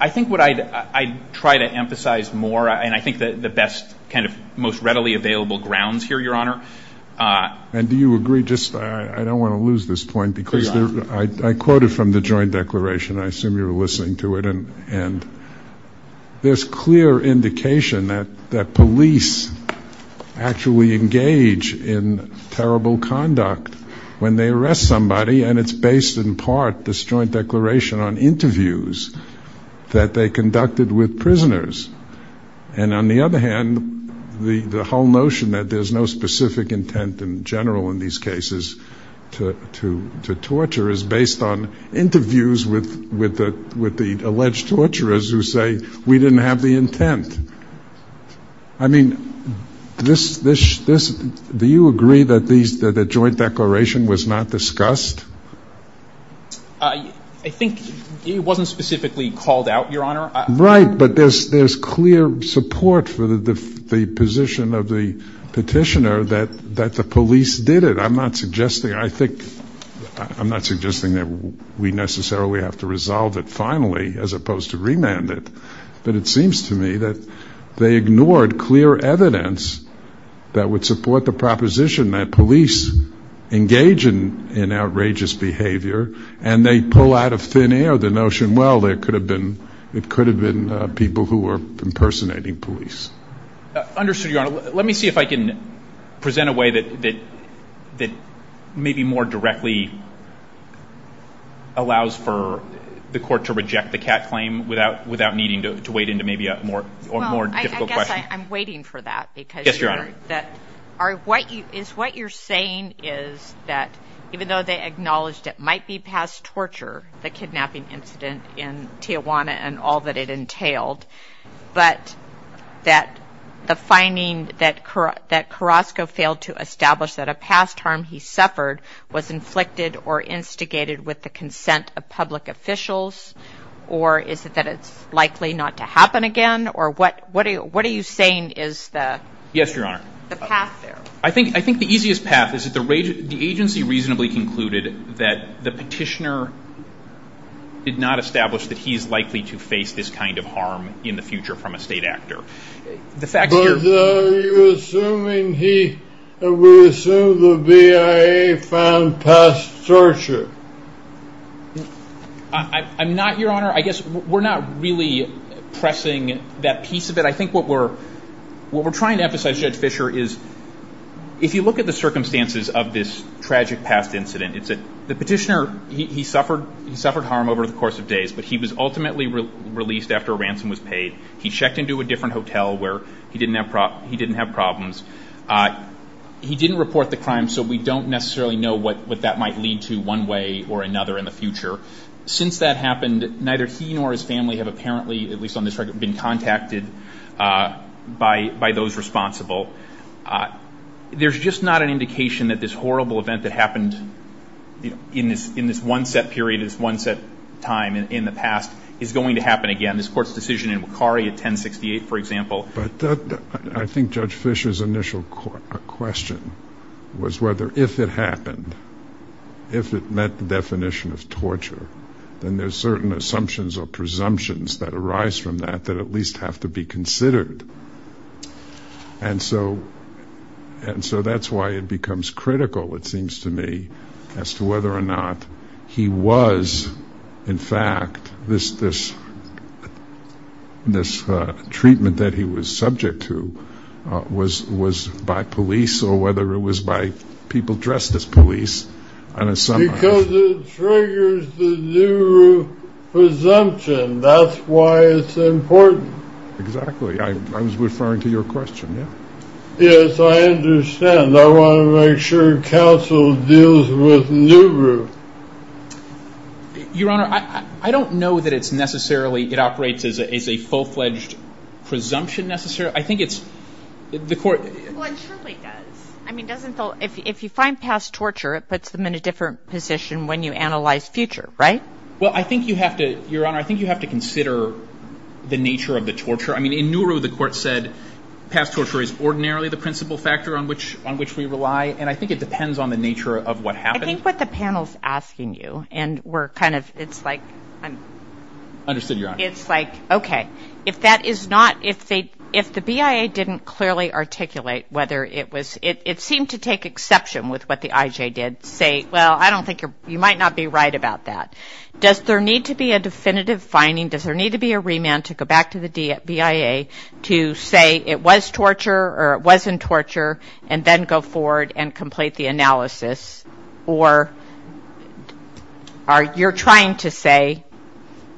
I think what I'd try to emphasize more, and I think that that's kind of the most readily available grounds here, Your Honor. And do you agree, just, I don't want to lose this point because I quoted from the joint declaration, I assume you're listening to it, and there's clear indication that police actually engage in terrible conduct when they arrest somebody, and it's based in part, this joint declaration, on interviews that they conducted with prisoners. And on the other hand, the whole notion that there's no specific intent in general in these cases to torture is based on interviews with the alleged torturers who say, we didn't have the intent. I mean, this, do you agree that the joint declaration was not discussed? I think it wasn't specifically called out, Your Honor. Right, but there's clear support for the position of the petitioner that the police did it. I'm not suggesting, I think, I'm not suggesting that we necessarily have to resolve it finally as opposed to remand it, but it seems to me that they ignored clear evidence that would support the proposition that police engage in outrageous behavior and they pull out of thin air the notion, well, it could have been people who were impersonating police. Understood, Your Honor. Let me see if I can present a way that maybe more directly allows for the court to reject the Catt claim without needing to wade into maybe a more difficult question. Well, I guess I'm waiting for that. Yes, Your Honor. Is what you're saying is that even though they acknowledged it might be past torture, the kidnapping incident in Tijuana and all that it entailed, but that the finding that Carrasco failed to establish that a past harm he suffered was inflicted or instigated with the consent of public officials, or is it that it's likely not to happen again, or what are you saying is the... Yes, Your Honor. ...the path there? I think the easiest path is that the agency reasonably concluded that the petitioner did not establish that he is likely to face this kind of harm in the future from a state actor. But are you assuming he, we assume the VIA found past torture? I'm not, Your Honor. I guess we're not really pressing that piece of it. But I think what we're trying to emphasize here, Fisher, is if you look at the circumstances of this tragic past incident, it's that the petitioner, he suffered harm over the course of days, but he was ultimately released after a ransom was paid. He checked into a different hotel where he didn't have problems. He didn't report the crime, so we don't necessarily know what that might lead to one way or another in the future. Since that happened, neither he nor his family have apparently, at least on this record, been contacted by those responsible. There's just not an indication that this horrible event that happened in this one set period, this one set time in the past, is going to happen again. This court's decision in Wakari of 1068, for example. I think Judge Fisher's initial question was whether if it happened, if it met the definition of torture, then there's certain assumptions or presumptions that arise from that, that at least have to be considered. And so that's why it becomes critical, it seems to me, as to whether or not he was, in fact, this treatment that he was subject to, was by police or whether it was by people dressed as police. Because it triggers the Nuru presumption. That's why it's important. Exactly. I was referring to your question. Yes, I understand. I want to make sure counsel deals with Nuru. Your Honor, I don't know that it's necessarily, it operates as a full-fledged presumption necessarily. Well, it certainly does. I mean, if you find past torture, it puts them in a different position when you analyze future, right? Well, I think you have to, Your Honor, I think you have to consider the nature of the torture. I mean, in Nuru, the court said past torture is ordinarily the principal factor on which we rely, and I think it depends on the nature of what happened. I think what the panel's asking you, and we're kind of, it's like, Understood, Your Honor. It's like, okay, if that is not, if the BIA didn't clearly articulate whether it was, it seemed to take exception with what the IJ did, say, well, I don't think, you might not be right about that. Does there need to be a definitive finding? Does there need to be a remand to go back to the BIA to say it was torture or it wasn't torture, and then go forward and complete the analysis? Or are you trying to say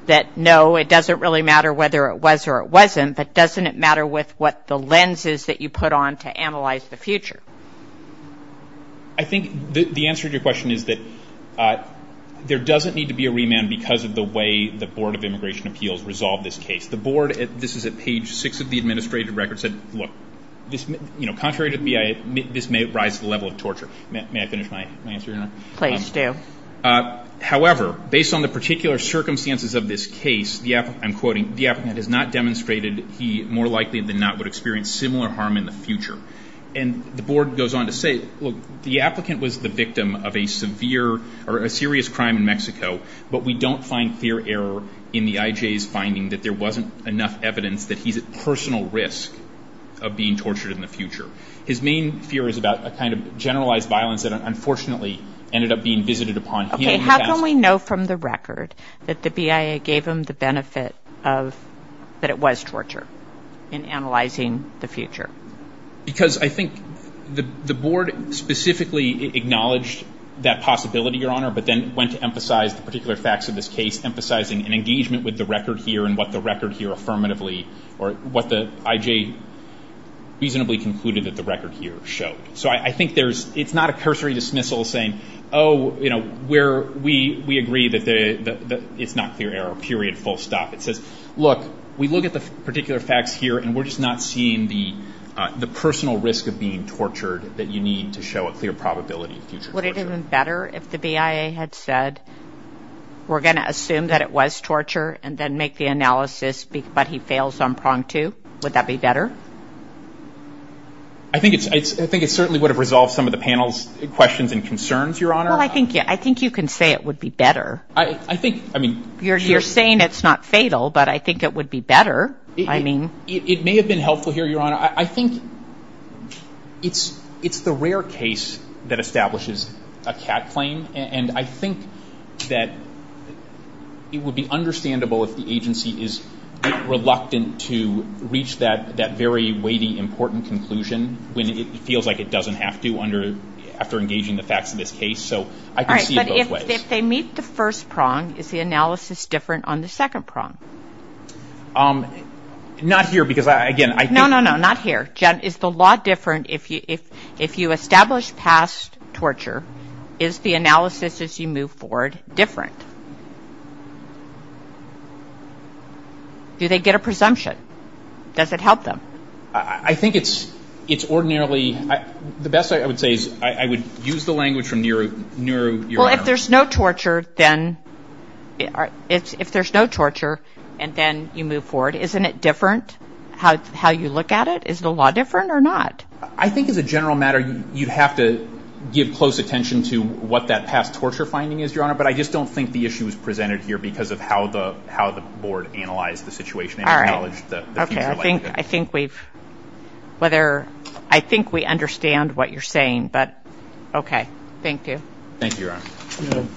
that, no, it doesn't really matter whether it was or it wasn't, but doesn't it matter with what the lens is that you put on to analyze the future? I think the answer to your question is that there doesn't need to be a remand because of the way the Board of Immigration Appeals resolved this case. The Board, this is at page six of the administrative record, said, look, contrary to the BIA, this may rise to the level of torture. May I finish my answer, Your Honor? Please do. However, based on the particular circumstances of this case, I'm quoting, the applicant has not demonstrated he more likely than not would experience similar harm in the future. And the Board goes on to say, look, the applicant was the victim of a severe or a serious crime in Mexico, but we don't find clear error in the IJ's finding that there wasn't enough evidence that he's at personal risk of being tortured in the future. His main fear is about a kind of generalized violence that unfortunately ended up being visited upon him. Okay, how can we know from the record that the BIA gave him the benefit that it was torture in analyzing the future? Because I think the Board specifically acknowledged that possibility, Your Honor, but then went to emphasize the particular facts of this case, and emphasized an engagement with the record here and what the record here affirmatively or what the IJ reasonably concluded that the record here showed. So I think it's not a cursory dismissal saying, oh, you know, we agree that it's not clear error, period, full stop. Look, we look at the particular facts here, and we're just not seeing the personal risk of being tortured that you need to show a clear probability. Would it have been better if the BIA had said, we're going to assume that it was torture and then make the analysis, but he fails on prong two? Would that be better? I think it certainly would have resolved some of the panel's questions and concerns, Your Honor. Well, I think you can say it would be better. You're saying it's not fatal, but I think it would be better. It may have been helpful here, Your Honor. I think it's the rare case that establishes a CAT claim, and I think that it would be understandable if the agency is reluctant to reach that very weighty, important conclusion when it feels like it doesn't have to after engaging the facts in this case. All right, but if they meet the first prong, is the analysis different on the second prong? Not here because, again, I think- No, no, no, not here. Judd, it's a lot different if you establish past torture. Is the analysis as you move forward different? Do they get a presumption? Does it help them? I think it's ordinarily-the best I would say is I would use the language from Nehru, Your Honor. Well, if there's no torture, then you move forward. Isn't it different how you look at it? Is the law different or not? I think as a general matter, you'd have to give close attention to what that past torture finding is, Your Honor, but I just don't think the issue is presented here because of how the board analyzed the situation. All right. I think we've-I think we understand what you're saying, but okay. Thank you. Thank you, Your Honor.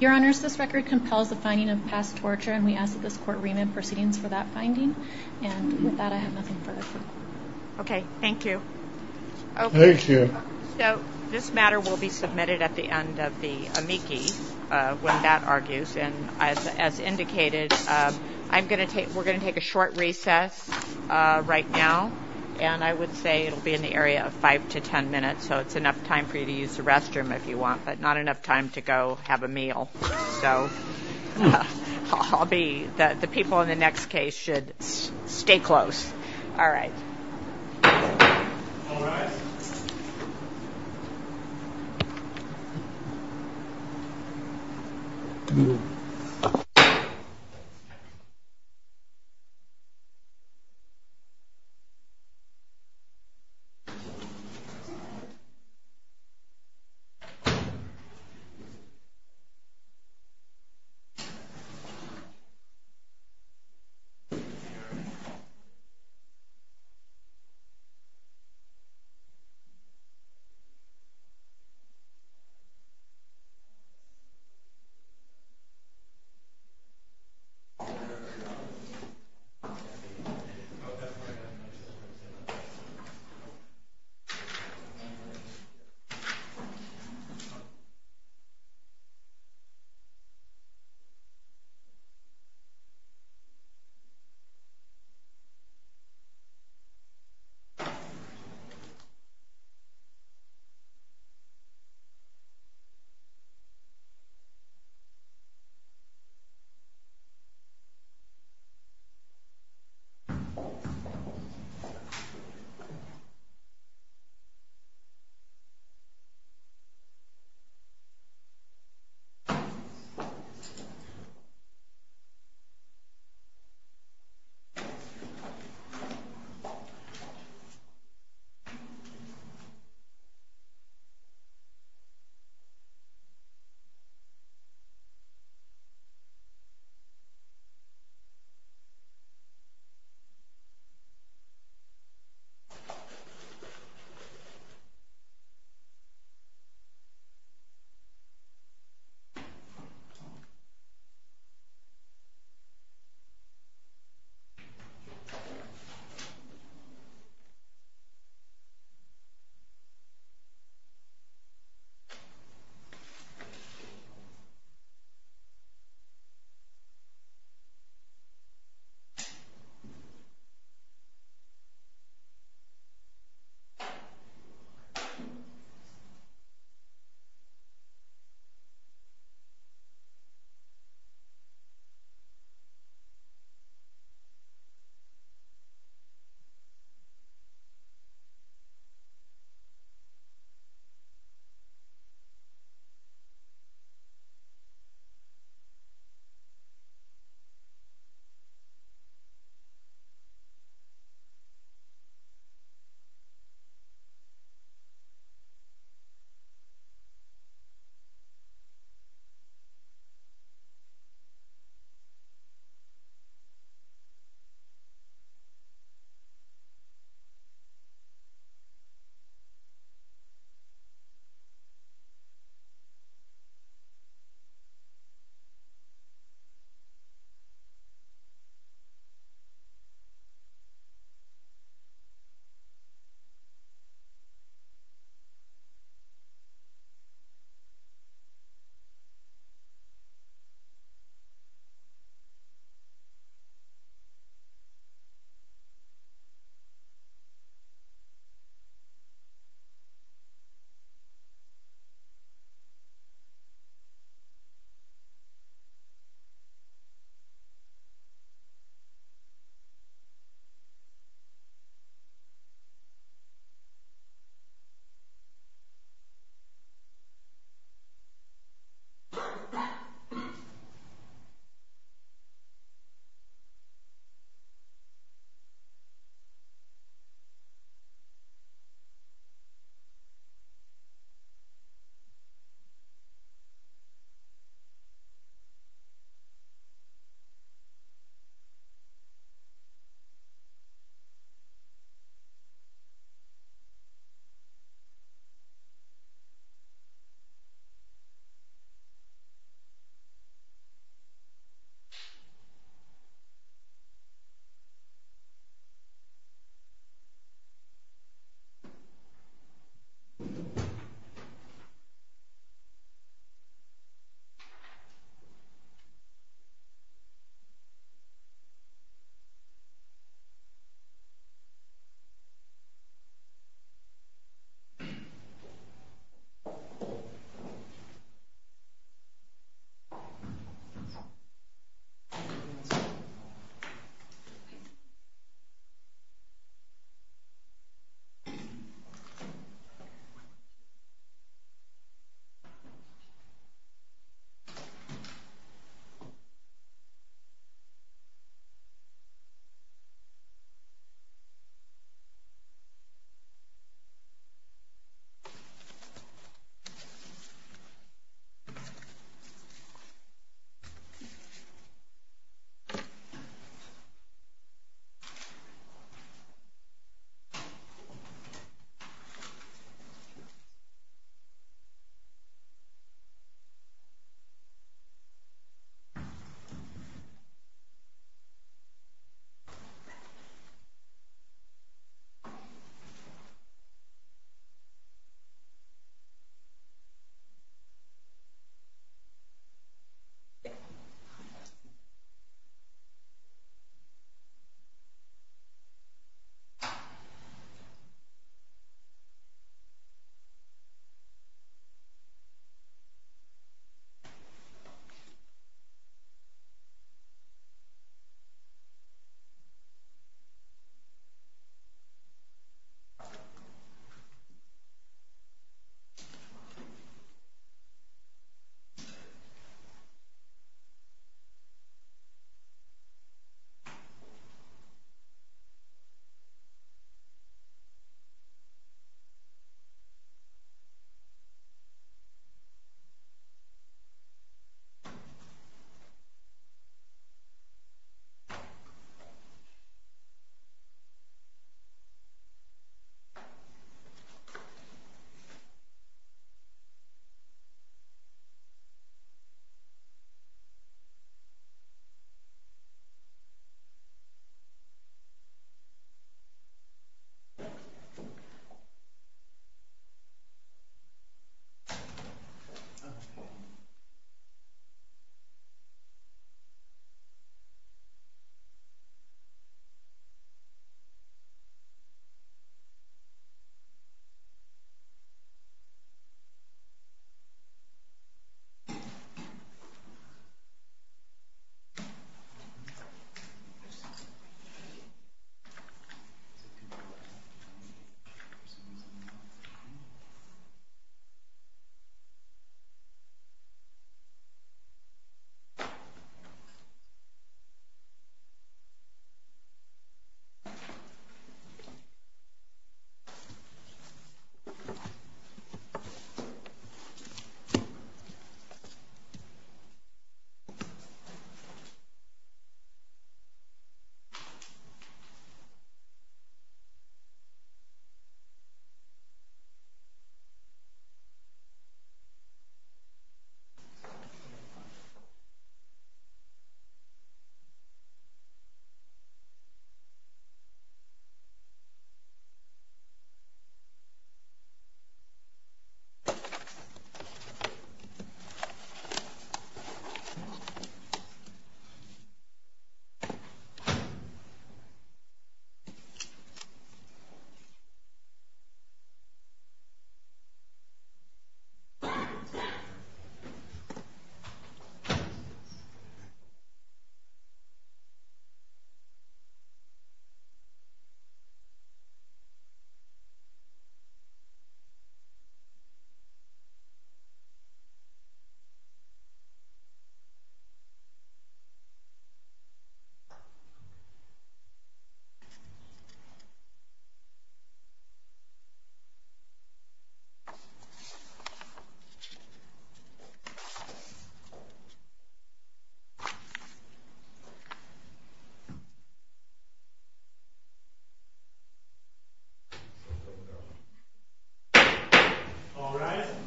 Your Honor, this record compels a finding of past torture, and we ask that this court ream in proceedings for that finding. And with that, I have nothing further to say. Okay. Thank you. Thank you. So this matter will be submitted at the end of the amici when that argues, and as indicated, I'm going to take-we're going to take a short recess right now, and I would say it will be in the area of five to ten minutes, so it's enough time for you to use the restroom if you want, but not enough time to go have a meal. So I'll be-the people in the next case should stay close. All right. All right. Thank you.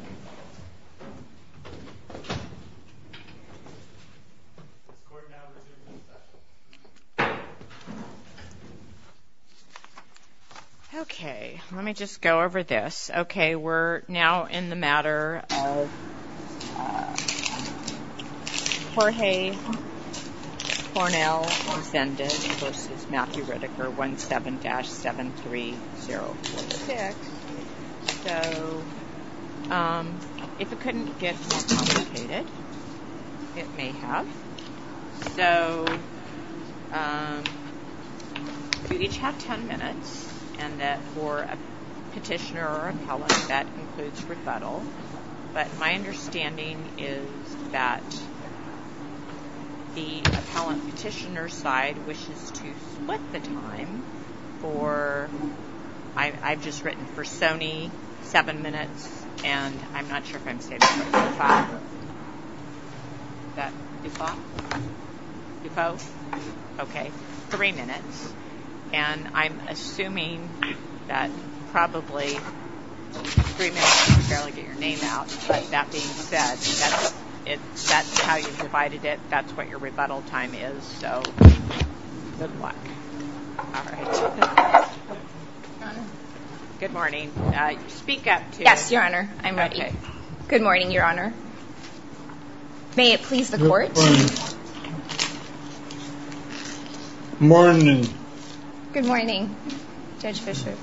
Thank you. Thank you. Thank you. Thank you. Thank you. Thank you. Thank you. Thank you. Thank you. Thank you. Thank you. Thank you. Thank you. Thank you. Thank you. Thank you. Thank you. Thank you. Thank you. Thank you. Okay. Let me just go over this. Okay. We're now in the matter of Jorge Cornell's defendant, which is Matthew Ritiker, 17-73046. So if it couldn't get communicated, it may have. So, we each have ten minutes, and that for a petitioner or appellant, that includes refutals. But my understanding is that the appellant petitioner side wishes to split the time for, I've just written for Sony, seven minutes, and I'm not sure if I'm getting to five. Okay. Three minutes. And I'm assuming that probably three minutes is barely going to get your name out. But that being said, that's how you divided it. That's what your rebuttal time is. So, good luck. Good morning. Speak up. Yes, Your Honor. I'm ready. Good morning, Your Honor. May it please the court. Good morning. Good morning. Good morning, Judge Fischer.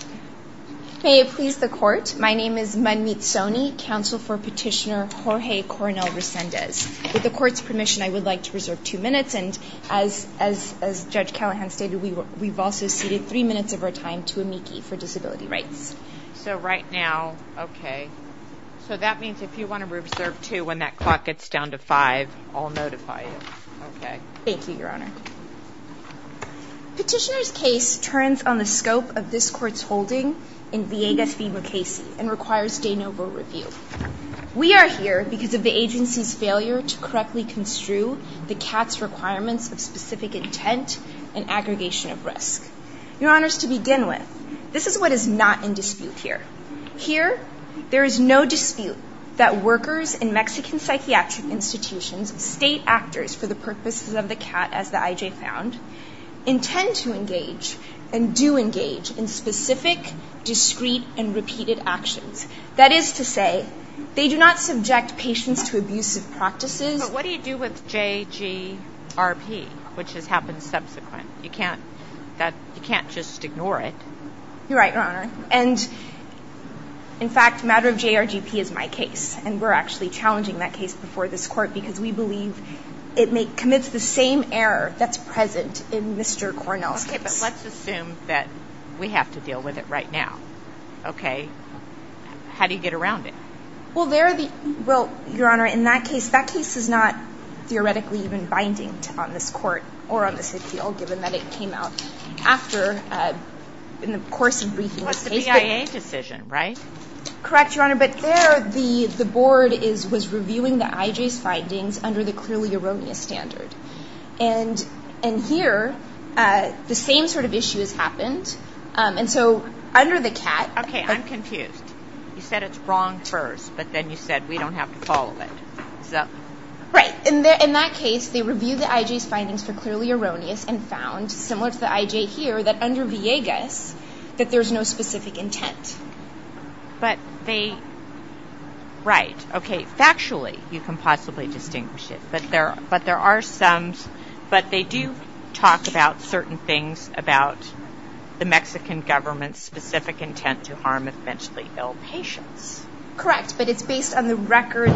May it please the court. My name is Monique Sony, counsel for petitioner Jorge Cornell Resendez. With the court's permission, I would like to reserve two minutes. And as Judge Callahan stated, we've also ceded three minutes of our time to Amiki for disability rights. So, right now. Okay. So, that means if you want to reserve two when that clock gets down to five, I'll notify you. Okay. Thank you, Your Honor. Petitioner's case turns on the scope of this court's holding in V.A.S.D. McCasey and requires de novo review. We are here because of the agency's failure to correctly construe the CATS requirements of specific intent and aggregation of risk. Your Honors, to begin with, this is what is not in dispute here. Here, there is no dispute that workers in Mexican psychiatric institutions, state actors for the purposes of the CAT, as the I.J. found, intend to engage and do engage in specific, discreet, and repeated actions. That is to say, they do not subject patients to abusive practices. But what do you do with JGRP, which has happened subsequently? You can't just ignore it. You're right, Your Honor. And, in fact, the matter of JGRP is my case, and we're actually challenging that case before this court because we believe it commits the same error that's present in Mr. Cornell's case. Okay, but let's assume that we have to deal with it right now. Okay. How do you get around it? Well, Your Honor, in that case, that case is not theoretically even binding on this court or on this appeal, given that it came out after, in the course of recent cases. That's the BIA decision, right? Correct, Your Honor. But there, the board was reviewing the I.J.'s findings under the clearly erroneous standard. And here, the same sort of issue has happened. And so, under the CAT- Okay, I'm confused. You said it's wrong first, but then you said we don't have to follow it. Right. In that case, they reviewed the I.J.'s findings for clearly erroneous and found, similar to the I.J. here, that under VIEGA, that there's no specific intent. But they- Right. Okay, factually, you can possibly distinguish it, but there are some- but they do talk about certain things about the Mexican government's specific intent to harm a mentally ill patient. Correct, but it's based on the record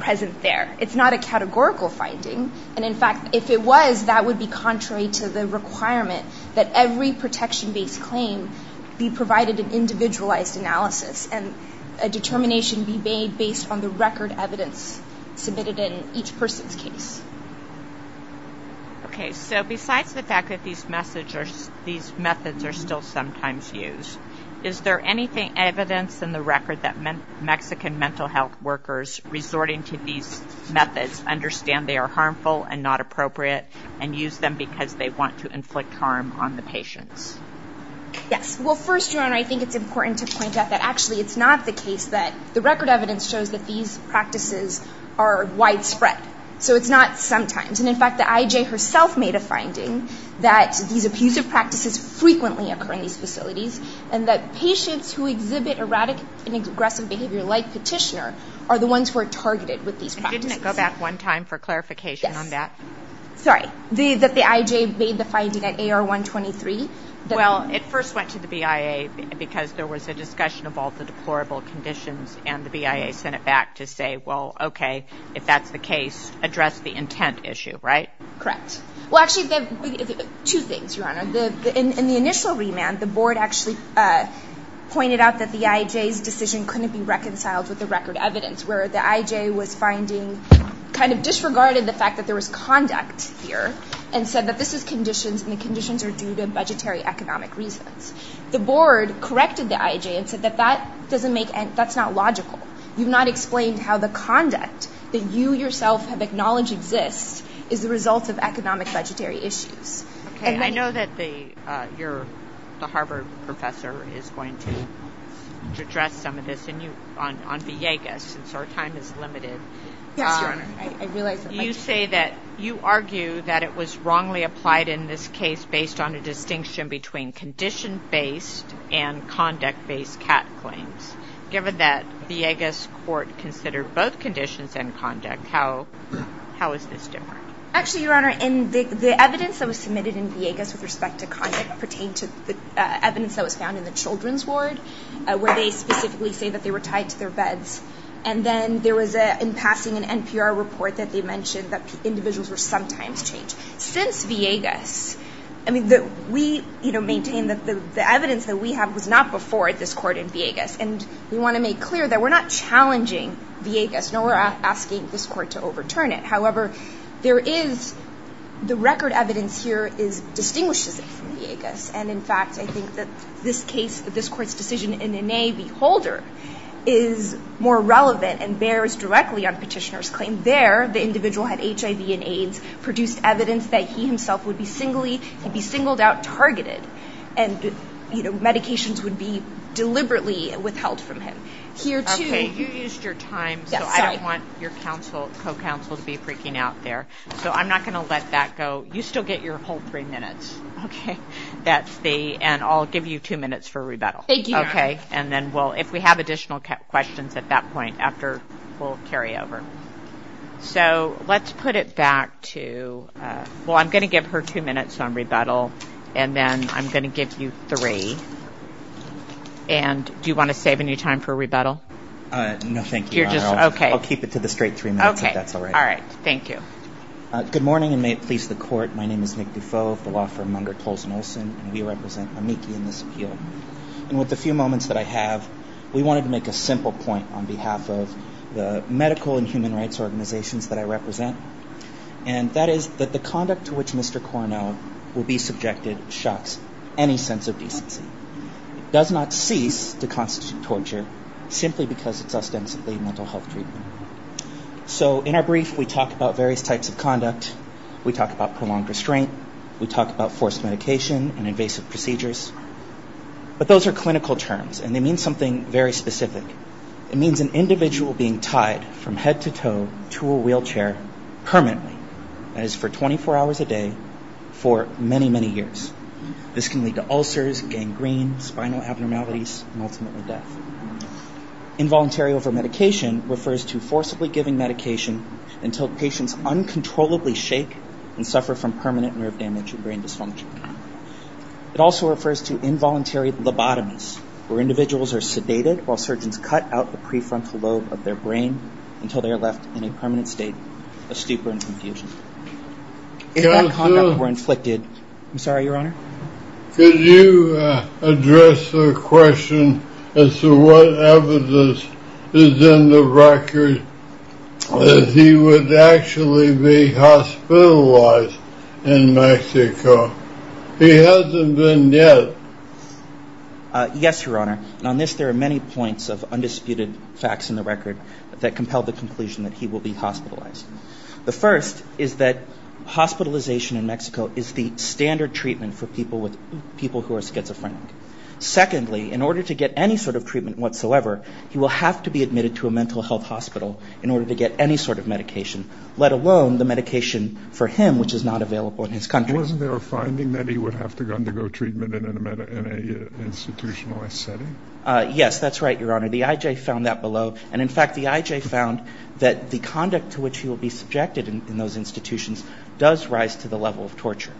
present there. It's not a categorical finding. And, in fact, if it was, that would be contrary to the requirement that every protection-based claim be provided with individualized analysis and a determination be made based on the record evidence submitted in each person's case. Okay, so besides the fact that these methods are still sometimes used, is there any evidence in the record that Mexican mental health workers resorting to these methods understand they are harmful and not appropriate and use them because they want to inflict harm on the patient? Yes. Well, first, I think it's important to point out that actually it's not the case that- the record evidence shows that these practices are widespread. So it's not sometimes. And, in fact, the IJ herself made a finding that these abusive practices frequently occur in these facilities and that patients who exhibit erratic and aggressive behavior like Petitioner are the ones who are targeted with these practices. And didn't it go back one time for clarification on that? Yes. Sorry, that the IJ made the finding at AR 123? Well, it first went to the BIA because there was a discussion of all the deplorable conditions and the BIA sent it back to say, well, okay, if that's the case, address the intent issue, right? Correct. Well, actually, two things, Your Honor. In the initial remand, the board actually pointed out that the IJ's decision couldn't be reconciled with the record evidence, whereas the IJ was finding-kind of disregarded the fact that there was conduct here and said that this is conditions and the conditions are due to budgetary economic reasons. The board corrected the IJ and said that that's not logical. You've not explained how the conduct that you yourself have acknowledged exists is the result of economic budgetary issues. Okay. I know that the Harvard professor is going to address some of this on Villegas, so our time is limited. Yes, Your Honor. You say that-you argue that it was wrongly applied in this case based on a distinction between condition-based and conduct-based categories, given that Villegas court considered both conditions and conduct. How is this different? Actually, Your Honor, the evidence that was submitted in Villegas with respect to conduct pertained to the evidence that was found in the children's ward, where they specifically say that they were tied to their beds, and then there was, in passing, an NPR report that they mentioned that individuals were sometimes chained. Since Villegas-I mean, we maintain that the evidence that we have does not put forward this court in Villegas, and we want to make clear that we're not challenging Villegas. No, we're asking this court to overturn it. However, there is-the record evidence here is distinguished to this in Villegas, and, in fact, I think that this case-this court's decision in NAAB Holder is more relevant and bears directly on Petitioner's claim. There, the individual had HIV and AIDS, produced evidence that he himself would be singly-would be singled out, targeted, and, you know, medications would be deliberately withheld from him. Here, too- Okay, you used your time, so I don't want your counsel-co-counsel to be freaking out there. So I'm not going to let that go. You still get your whole three minutes. Okay. That's the-and I'll give you two minutes for rebuttal. Thank you. Okay. And then we'll-if we have additional questions at that point, after, we'll carry over. So let's put it back to-well, I'm going to give her two minutes on rebuttal, and then I'm going to give you three. And do you want to save any time for rebuttal? No, thank you. You're just-okay. I'll keep it to the straight three minutes, if that's all right. Okay. All right. Thank you. Good morning, and may it please the Court. My name is Nick Dufault, the law firm under Colson Olson, and we represent Amici in this appeal. And with the few moments that I have, we wanted to make a simple point on behalf of the medical and human rights organizations that I represent, and that is that the conduct to which Mr. Corneau will be subjected shocks any sense of decency. It does not cease to constitute torture simply because it's ostensibly mental health treatment. So in our brief, we talk about various types of conduct. We talk about prolonged restraint. We talk about forced medication and invasive procedures. But those are clinical terms, and they mean something very specific. It means an individual being tied from head to toe to a wheelchair permanently, that is, for 24 hours a day, for many, many years. This can lead to ulcers, gangrene, spinal abnormalities, and ultimately death. Involuntary overmedication refers to forcibly giving medication until patients uncontrollably shake and suffer from permanent nerve damage or brain dysfunction. It also refers to involuntary lobotomies, where individuals are sedated while surgeons cut out the prefrontal lobe of their brain until they are left in a permanent state of stupor and confusion. If that conduct were inflicted... I'm sorry, Your Honor? Could you address the question as to what evidence is in the record that he would actually be hospitalized in Mexico? He hasn't been yet. Yes, Your Honor. On this, there are many points of undisputed facts in the record that compel the conclusion that he will be hospitalized. The first is that hospitalization in Mexico is the standard treatment for people who are schizophrenic. Secondly, in order to get any sort of treatment whatsoever, he will have to be admitted to a mental health hospital in order to get any sort of medication, let alone the medication for him, which is not available in his country. Wasn't there a finding that he would have to undergo treatment in an institutionalized setting? Yes, that's right, Your Honor. The IJ found that below. And in fact, the IJ found that the conduct to which he will be subjected in those institutions does rise to the level of torture.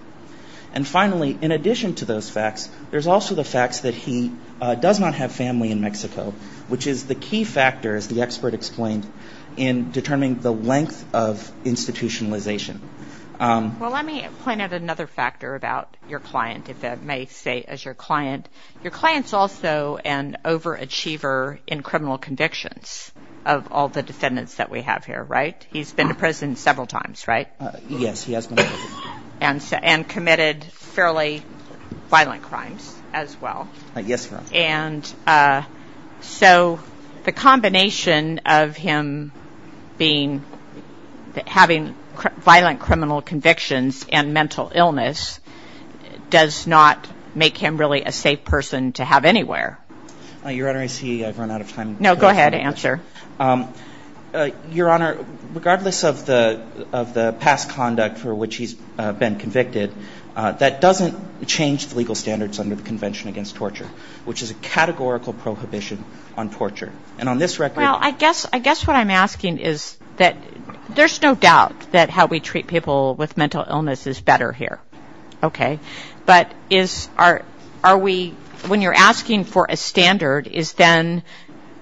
And finally, in addition to those facts, there's also the fact that he does not have family in Mexico, which is the key factor, as the expert explained, in determining the length of institutionalization. Well, let me point out another factor about your client, if I may say as your client. Your client is also an overachiever in criminal convictions of all the defendants that we have here, right? He's been to prison several times, right? Yes, he has been to prison. And committed fairly violent crimes as well. Yes, Your Honor. And so the combination of him having violent criminal convictions and mental illness does not make him really a safe person to have anywhere. Your Honor, I see I've run out of time. No, go ahead. Answer. Your Honor, regardless of the past conduct for which he's been convicted, that doesn't change legal standards under the Convention Against Torture, which is a categorical prohibition on torture. And on this record... Well, I guess what I'm asking is that there's no doubt that how we treat people with mental illness is better here, okay? But when you're asking for a standard, is then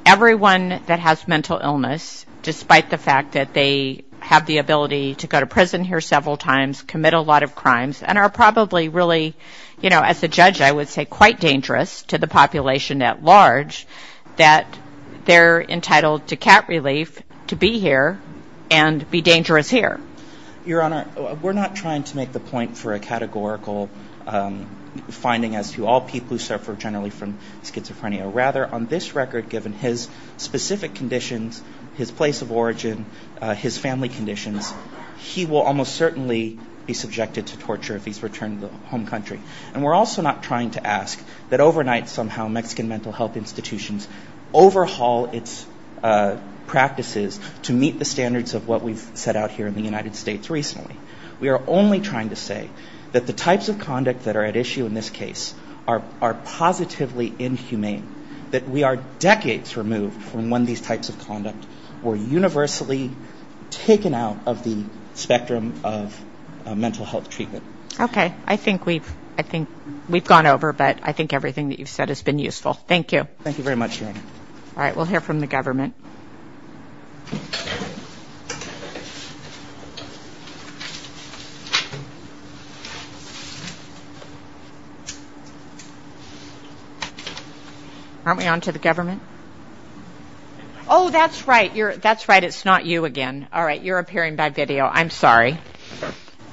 everyone that has mental illness, despite the fact that they have the ability to go to prison here several times, commit a lot of crimes, and are probably really, you know, as a judge I would say quite dangerous to the population at large, that they're entitled to cat relief to be here and be dangerous here. Your Honor, we're not trying to make the point for a categorical finding as to all people who suffer generally from schizophrenia. Rather, on this record, given his specific conditions, his place of origin, his family conditions, he will almost certainly be subjected to torture if he's returned to the home country. And we're also not trying to ask that overnight somehow Mexican mental health institutions overhaul its practices to meet the standards of what we've set out here in the United States recently. We are only trying to say that the types of conduct that are at issue in this case are positively inhumane, that we are decades removed from when these types of conduct were universally taken out of the spectrum of mental health treatment. Okay. I think we've gone over, but I think everything that you've said has been useful. Thank you. Thank you very much, Your Honor. All right. We'll hear from the government. Aren't we on to the government? Oh, that's right. That's right. It's not you again. All right. You're appearing by video. I'm sorry.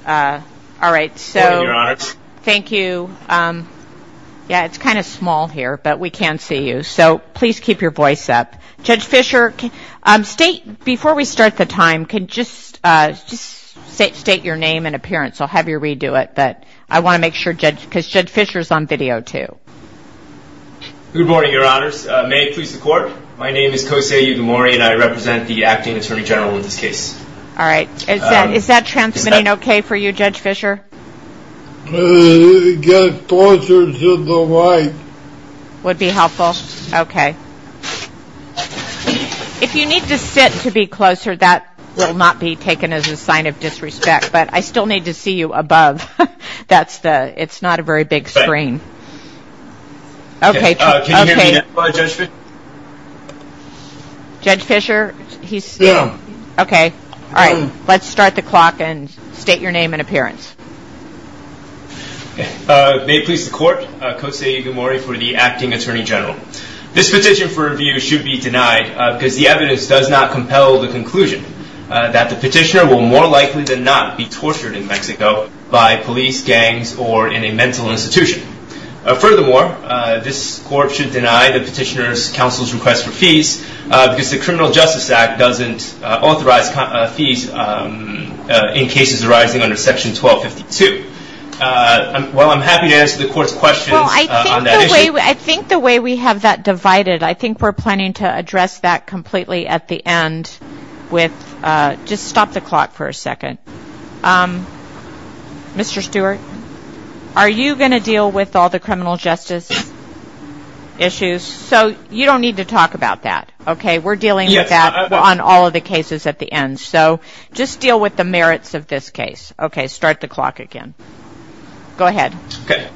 All right. So thank you. Yeah, it's kind of small here, but we can see you. So please keep your voice up. Judge Fischer, before we start the time, can you just state your name, I'll have you redo it, but I want to make sure, because Judge Fischer is on video, too. All right. Is that transmitting okay for you, Judge Fischer? Would be helpful? Okay. If you need to sit to be closer, that will not be taken as a sign of disrespect, but I still need to see you above. It's not a very big screen. Okay. Judge Fischer? Yeah. Okay. All right. Let's start the clock and state your name and appearance. May it please the Court. Jose Zamora for the Acting Attorney General. This petition for review should be denied because the evidence does not compel the conclusion that the petitioner will more likely than not be tortured in Mexico by police, gangs, or in a mental institution. Furthermore, this Court should deny the petitioner's counsel's request for fees because the Criminal Justice Act doesn't authorize fees in cases arising under Section 1252. Well, I'm happy to answer the Court's questions on that issue. Well, I think the way we have that divided, I think we're planning to address that completely at the end with – just stop the clock for a second. Mr. Stewart, are you going to deal with all the criminal justice issues? So, you don't need to talk about that, okay? We're dealing with that on all of the cases at the end, so just deal with the merits of this case. Okay, start the clock again. Go ahead. Okay.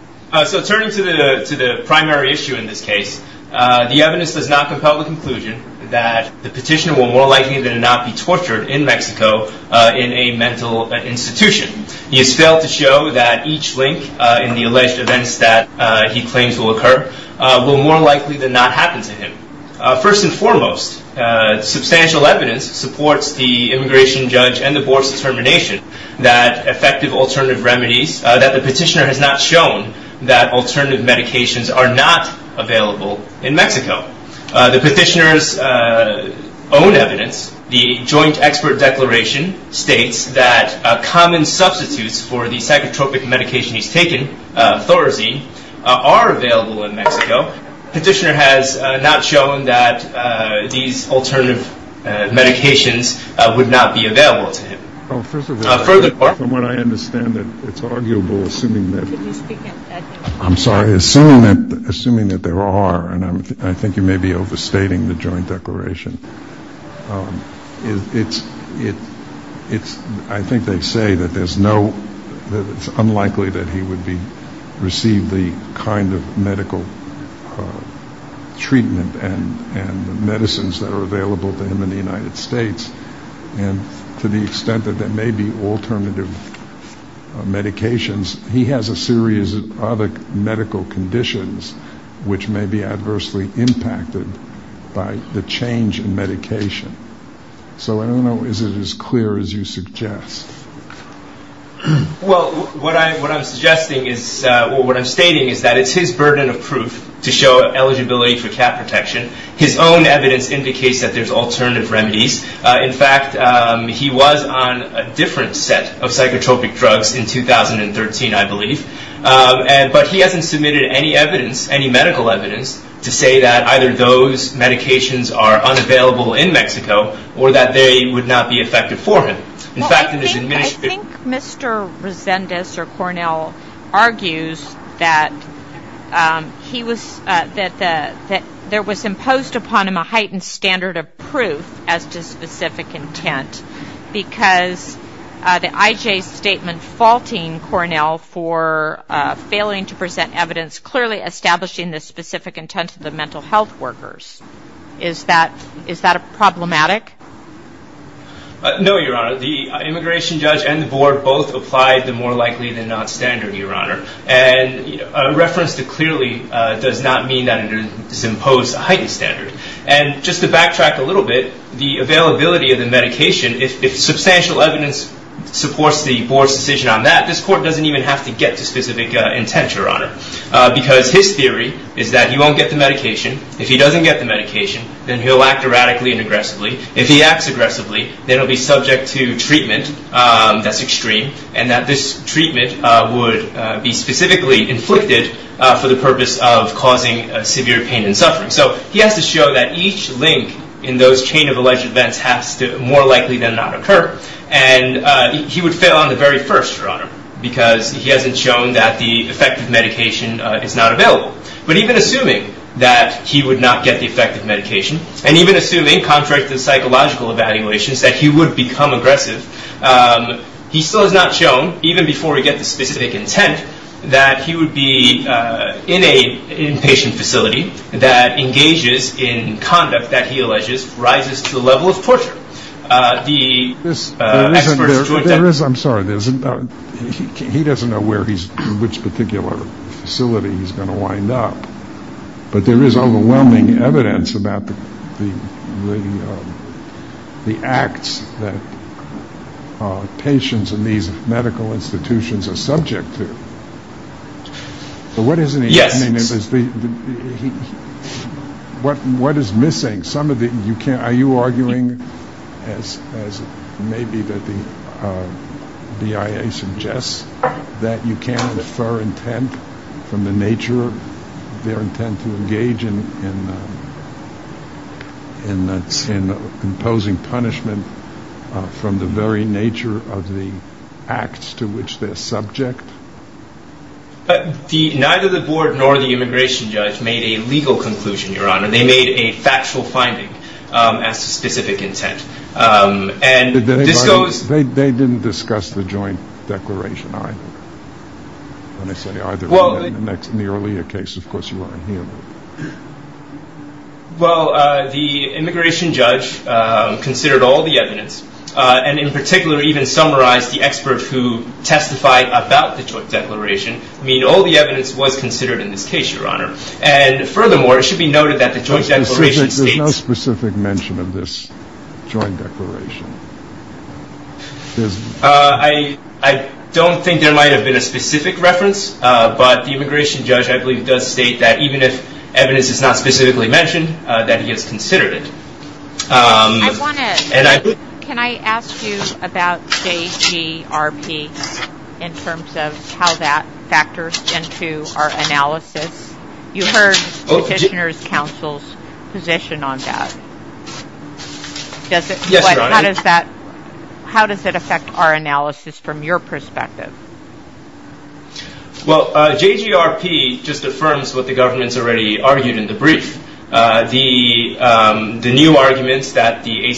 So, turning to the primary issue in this case, the evidence does not compel the conclusion that the petitioner will more likely than not be tortured in Mexico in a mental institution. It fails to show that each link in the alleged events that he claims will occur will more likely than not happen to him. First and foremost, substantial evidence supports the immigration judge and the Board's determination that effective alternative remedies – that the petitioner has not shown that alternative medications are not available in Mexico. The petitioner's own evidence, the Joint Expert Declaration, states that common substitutes for the psychotropic medication he's taken, Thorazine, are available in Mexico. The petitioner has not shown that these alternative medications would not be available to him. Well, first of all, from what I understand, it's arguable, assuming that there are, and I think you may be overstating the Joint Declaration. I think they say that it's unlikely that he would receive the kind of medical treatment and medicines that are available to him in the United States. And to the extent that there may be alternative medications, he has a series of other medical conditions which may be adversely impacted by the change in medication. So I don't know, is it as clear as you suggest? Well, what I'm stating is that it's his burden of proof to show eligibility for cat protection. His own evidence indicates that there's alternative remedies. In fact, he was on a different set of psychotropic drugs in 2013, I believe. But he hasn't submitted any evidence, any medical evidence, to say that either those medications are unavailable in Mexico or that they would not be effective for him. I think Mr. Resendez, or Cornell, argues that there was imposed upon him a heightened standard of proof as to specific intent because the IJ statement faulting Cornell for failing to present evidence clearly establishing the specific intent of the mental health workers. Is that problematic? No, Your Honor. The immigration judge and the board both applied the more likely than not standard, Your Honor. And a reference to clearly does not mean that it is imposed a heightened standard. And just to backtrack a little bit, the availability of the medication, if substantial evidence supports the board's decision on that, this court doesn't even have to get the specific intent, Your Honor. Because his theory is that he won't get the medication. If he doesn't get the medication, then he'll act erratically and aggressively. If he acts aggressively, then he'll be subject to treatment that's extreme and that this treatment would be specifically inflicted for the purpose of causing severe pain and suffering. So he has to show that each link in those chain of alleged events has to more likely than not occur. And he would fail on the very first, Your Honor, because he hasn't shown that the effective medication is not available. But even assuming that he would not get the effective medication and even assuming contracted psychological evaluations, that he would become aggressive, he still has not shown, even before he gets the specific intent, that he would be in a inpatient facility that engages in conduct that he alleges rises to the level of torture. The experts... I'm sorry, he doesn't know which particular facility he's going to wind up. But there is overwhelming evidence about the acts that patients in these medical institutions are subject to. So what is missing? Are you arguing, as maybe the BIA suggests, that you can't infer intent from the nature of their intent to engage in imposing punishment from the very nature of the acts to which they're subject? Neither the board nor the immigration judge made a legal conclusion, Your Honor. They made a factual finding as to specific intent. And this goes... They didn't discuss the joint declaration, right? In the earlier case, of course, you weren't here. Well, the immigration judge considered all the evidence and in particular even summarized the expert who testified about the joint declaration. I mean, all the evidence was considered in this case, Your Honor. And furthermore, it should be noted that the joint declaration... There's no specific mention of this joint declaration. I don't think there might have been a specific reference, but the immigration judge, I believe, does state that even if evidence is not specifically mentioned, that he has considered it. Can I ask you about JGRP in terms of how that factors into our analysis? You heard the Petitioner's Counsel's position on that. Yes, Your Honor. How does that affect our analysis from your perspective? Well, JGRP just affirms what the government's already argued in the brief. The new argument that the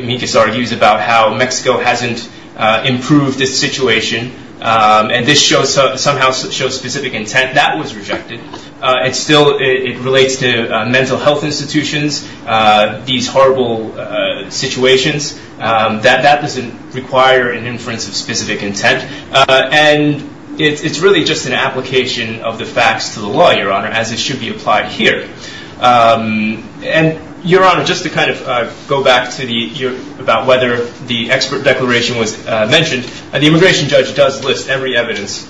media has already used about how Mexico hasn't improved this situation and this somehow shows specific intent, that was rejected. It still relates to mental health institutions, these horrible situations. That doesn't require an inference of specific intent. And it's really just an application of the facts to the law, Your Honor, as it should be applied here. And, Your Honor, just to kind of go back to the... about whether the expert declaration was mentioned, the immigration judge does list every evidence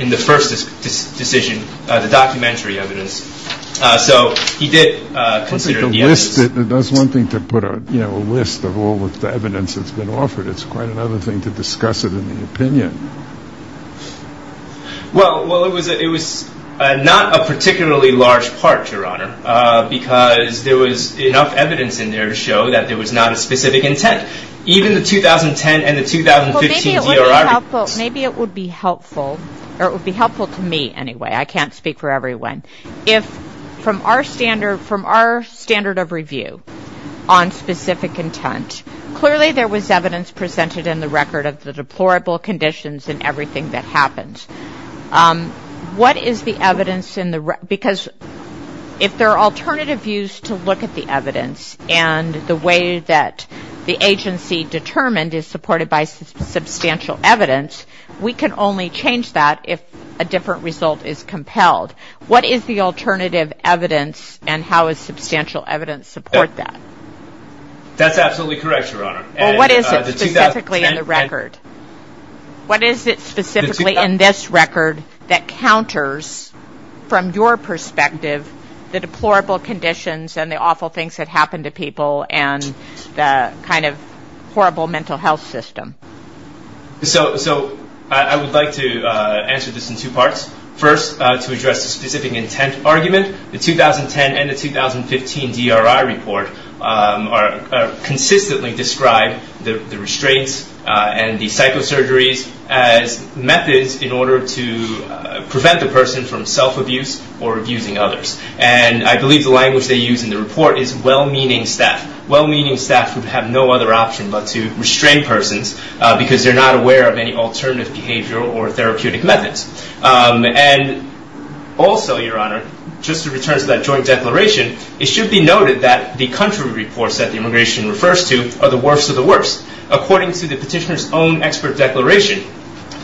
in the first decision, the documentary evidence. So he did consider the evidence... To list it, that's one thing to put a list of all the evidence that's been offered. It's quite another thing to discuss it in an opinion. Well, it was not a particularly large part, Your Honor, because there was enough evidence in there to show that there was not a specific intent. Even the 2010 and the 2015... Maybe it would be helpful, or it would be helpful to me anyway. I can't speak for everyone. From our standard of review on specific intent, clearly there was evidence presented in the record of the deplorable conditions and everything that happened. What is the evidence in the... Because if there are alternative views to look at the evidence and the way that the agency determined is supported by substantial evidence, we can only change that if a different result is compelled. What is the alternative evidence and how does substantial evidence support that? That's absolutely correct, Your Honor. What is it specifically in the record? What is it specifically in this record that counters, from your perspective, the deplorable conditions and the awful things that happen to people and the kind of horrible mental health system? So I would like to answer this in two parts. First, to address the specific intent argument, the 2010 and the 2015 DRI report consistently describe the restraints and the psychosurgery as methods in order to prevent the person from self-abuse or abusing others. And I believe the language they use in the report is well-meaning staff, well-meaning staff who have no other option but to restrain persons because they're not aware of any alternative behavioral or therapeutic methods. And also, Your Honor, just to return to that joint declaration, it should be noted that the country reports that the immigration refers to are the worst of the worst. According to the petitioner's own expert declaration,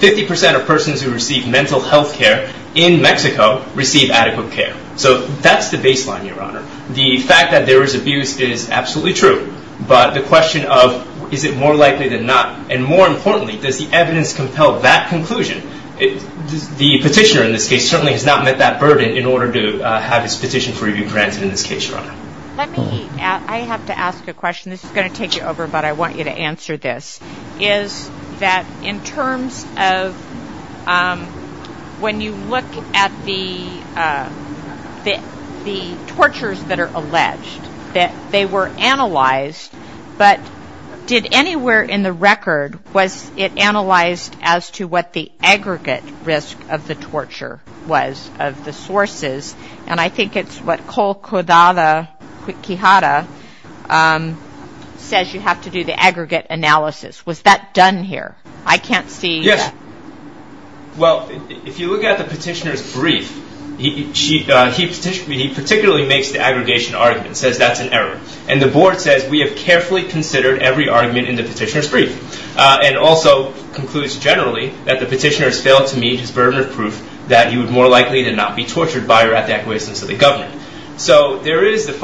50% of persons who receive mental health care in Mexico receive adequate care. So that's the baseline, Your Honor. The fact that there is abuse is absolutely true, but the question of is it more likely than not, and more importantly, does the evidence compel that conclusion, the petitioner in this case certainly has not met that burden in order to have his petition for review granted in this case, Your Honor. I have to ask a question. This is going to take you over, but I want you to answer this. Is that in terms of when you look at the tortures that are alleged, that they were analyzed, but did anywhere in the record, was it analyzed as to what the aggregate risk of the torture was of the sources? And I think it's what Cole Quijada says you have to do the aggregate analysis. Was that done here? I can't see that. Yes. Well, if you look at the petitioner's brief, he particularly makes the aggregation argument, says that's an error, and the board says we have carefully considered every argument in the petitioner's brief, and also concludes generally that the petitioner has failed to meet his burden of proof that he would more likely than not be tortured by or at the acquiescence of the government. So there is a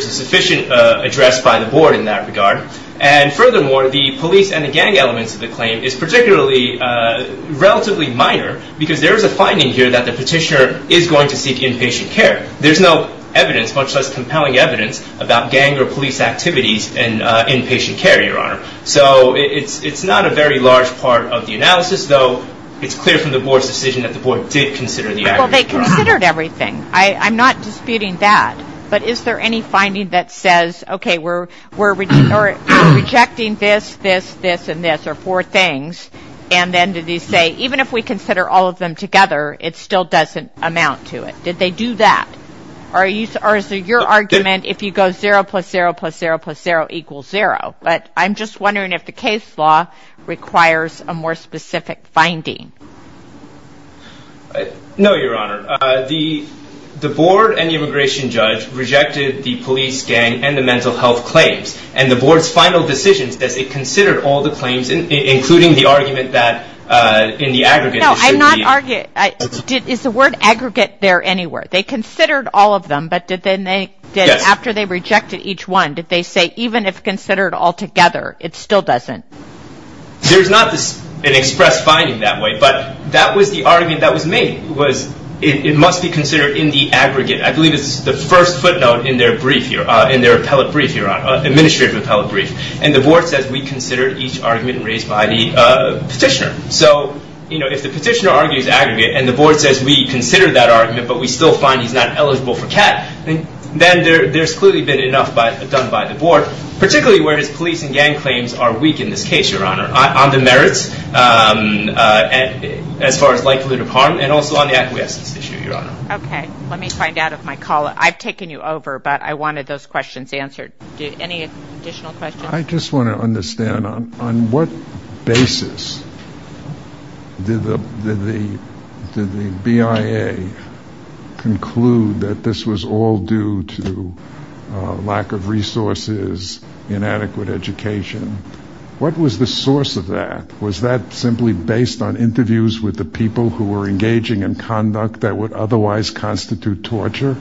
sufficient address by the board in that regard, and furthermore, the police and the gang elements of the claim is particularly relatively minor because there is a finding here that the petitioner is going to seek inpatient care. There's no evidence, much less compelling evidence, about gang or police activities in inpatient care, Your Honor. So it's not a very large part of the analysis, though it's clear from the board's decision that the board did consider the aggregate. Well, they considered everything. I'm not disputing that, but is there any finding that says, okay, we're rejecting this, this, this, and this, or four things, and then did they say, even if we consider all of them together, it still doesn't amount to it? Did they do that? Or is it your argument if you go zero plus zero plus zero plus zero equals zero? But I'm just wondering if the case law requires a more specific finding. No, Your Honor. The board and the immigration judge rejected the police, gang, and the mental health claims, and the board's final decision is that they considered all the claims, including the argument that in the aggregate. No, I'm not arguing. Is the word aggregate there anywhere? They considered all of them, but after they rejected each one, did they say, even if considered all together, it still doesn't? There's not an expressed finding that way, but that was the argument that was made. It must be considered in the aggregate. I believe it's the first footnote in their brief here, in their appellate brief, Your Honor, administrative appellate brief, and the board says we considered each argument raised by the petitioner. So, you know, if the petitioner argues aggregate, and the board says we considered that argument, but we still find he's not eligible for tax, then there's clearly been enough done by the board, particularly where the police and gang claims are weak in this case, Your Honor, on the merits as far as likelihood of harm, and also on the efficacy issue, Your Honor. Okay. Let me find out if my call, I've taken you over, but I wanted those questions answered. Any additional questions? I just want to understand, on what basis did the BIA conclude that this was all due to lack of resources, inadequate education? What was the source of that? Was that simply based on interviews with the people who were engaging in conduct that would otherwise constitute torture?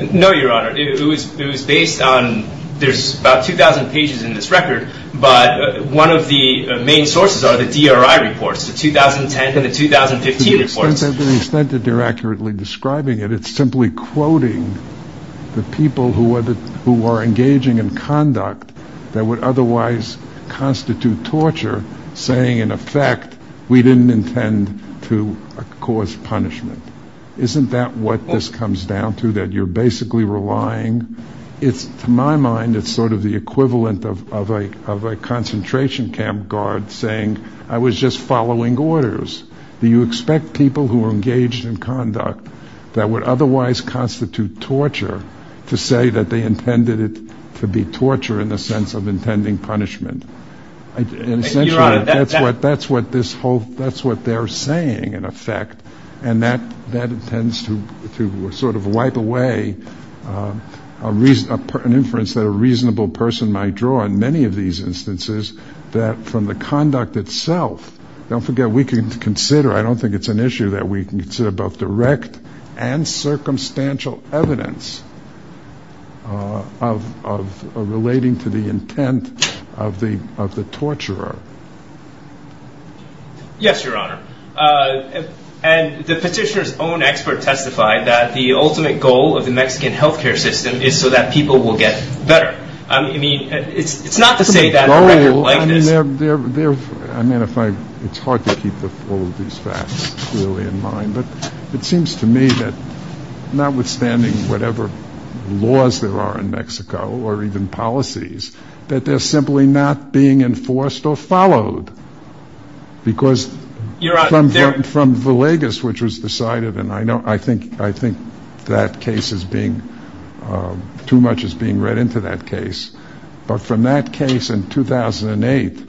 No, Your Honor. It was based on, there's about 2,000 pages in this record, but one of the main sources are the DRI reports, the 2010 and the 2015 reports. To the extent that they're accurately describing it, it's simply quoting the people who were engaging in conduct that would otherwise constitute torture, saying, in effect, we didn't intend to cause punishment. Isn't that what this comes down to, that you're basically relying? To my mind, it's sort of the equivalent of a concentration camp guard saying, I was just following orders. Do you expect people who were engaged in conduct that would otherwise constitute torture to say that they intended it to be torture in the sense of intending punishment? Thank you, Your Honor. That's what they're saying, in effect. And that tends to sort of wipe away an inference that a reasonable person might draw on many of these instances, that from the conduct itself, don't forget, we can consider, I don't think it's an issue that we can consider both direct and circumstantial evidence of relating to the intent of the torturer. Yes, Your Honor. And the petitioner's own expert testified that the ultimate goal of the Mexican health care system is so that people will get better. I mean, it's not to say that's what it's like. I mean, it's hard to keep all of these facts clearly in mind. But it seems to me that notwithstanding whatever laws there are in Mexico, or even policies, that they're simply not being enforced or followed. Because from Villegas, which was decided, and I think that case is being, too much is being read into that case. But from that case in 2008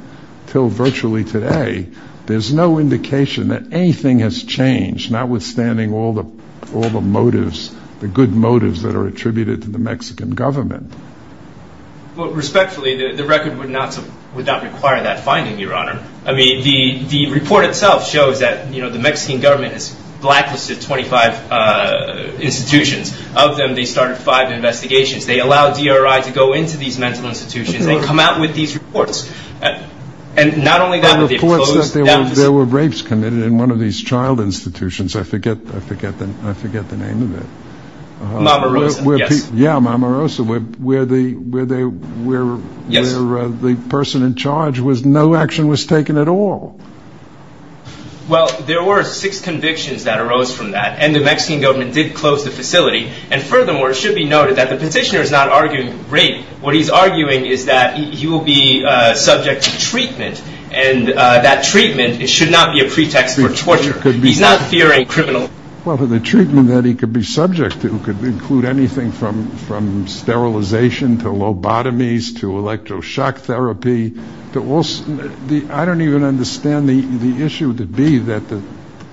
until virtually today, there's no indication that anything has changed, notwithstanding all the motives, the good motives that are attributed to the Mexican government. Well, respectfully, the record would not require that finding, Your Honor. I mean, the report itself shows that, you know, the Mexican government has blacklisted 25 institutions. Of them, they started five investigations. They allowed DRI to go into these mental institutions. They come out with these reports. And not only that, but they've closed them down. There were rapes committed in one of these child institutions. I forget the name of it. Mamarosa, yes. Where the person in charge was, no action was taken at all. Well, there were six convictions that arose from that. And the Mexican government did close the facility. And furthermore, it should be noted that the petitioner is not arguing rape. What he's arguing is that he will be subject to treatment. And that treatment, it should not be a pretext for torture. He's not fearing criminal. Well, the treatment that he could be subject to could include anything from sterilization to lobotomies to electroshock therapy. I don't even understand the issue to be that the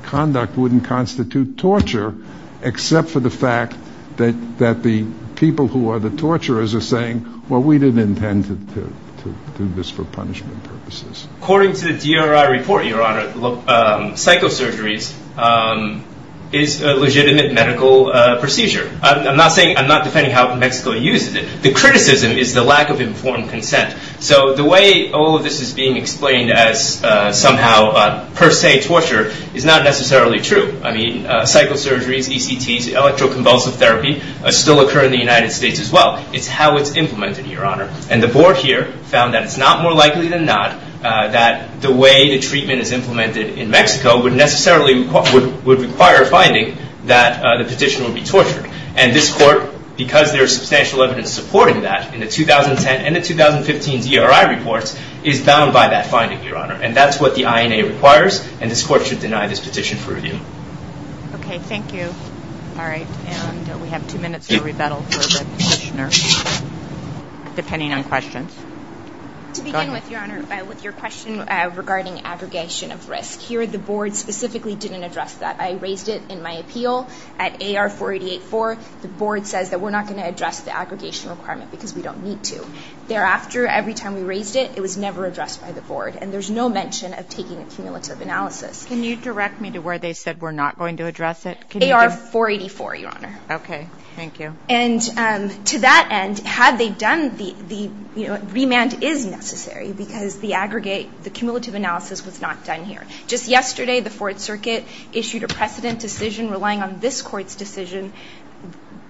conduct wouldn't constitute torture, except for the fact that the people who are the torturers are saying, well, we didn't intend to do this for punishment purposes. According to the DRR report, Your Honor, psychosurgery is a legitimate medical procedure. I'm not defending how Mexico uses it. The criticism is the lack of informed consent. So the way all of this is being explained as somehow per se torture is not necessarily true. I mean, psychosurgery, ECTs, electroconvulsive therapy still occur in the United States as well. It's how it's implemented, Your Honor. And the board here found that it's not more likely than not that the way the treatment is implemented in Mexico would necessarily require a finding that the petitioner would be tortured. And this court, because there is substantial evidence supporting that in the 2010 and the 2015 DRI reports, is bound by that finding, Your Honor. And that's what the INA requires, and this court should deny this petition for review. Okay, thank you. All right. We have two minutes for rebuttal for this petitioner, depending on questions. To begin with, Your Honor, with your question regarding aggregation of risk. Here the board specifically didn't address that. I raised it in my appeal at AR 488-4. The board says that we're not going to address the aggregation requirement because we don't need to. Thereafter, every time we raised it, it was never addressed by the board. And there's no mention of taking a cumulative analysis. Can you direct me to where they said we're not going to address it? AR 484, Your Honor. Okay, thank you. And to that end, had they done the, you know, remand is necessary because the aggregate, the cumulative analysis was not done here. Just yesterday, the Fourth Circuit issued a precedent decision relying on this court's decision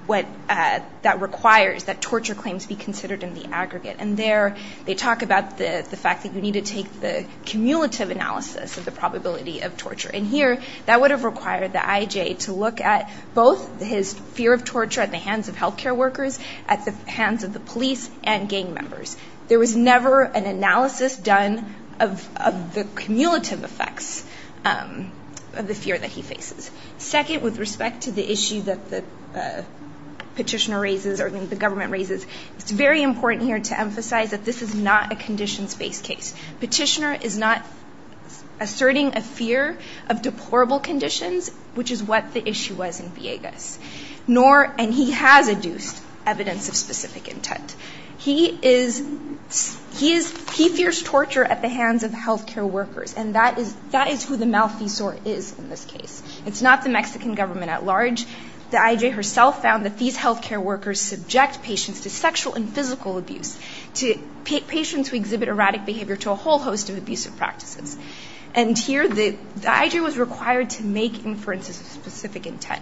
that requires that torture claims be considered in the aggregate. And there they talk about the fact that you need to take the cumulative analysis of the probability of torture. And here, that would have required the IJ to look at both his fear of torture at the hands of health care workers, at the hands of the police, and gang members. There was never an analysis done of the cumulative effects of the fear that he faces. Second, with respect to the issues that the petitioner raises or the government raises, it's very important here to emphasize that this is not a conditions-based case. Petitioner is not asserting a fear of deplorable conditions, which is what the issue was in Villegas. Nor, and he has adduced evidence of specific intent. He is, he fears torture at the hands of health care workers. And that is who the malfeasance is in this case. It's not the Mexican government at large. The IJ herself found that these health care workers subject patients to sexual and physical abuse. Patients who exhibit erratic behavior to a whole host of abusive practices. And here, the IJ was required to make inferences of specific intent.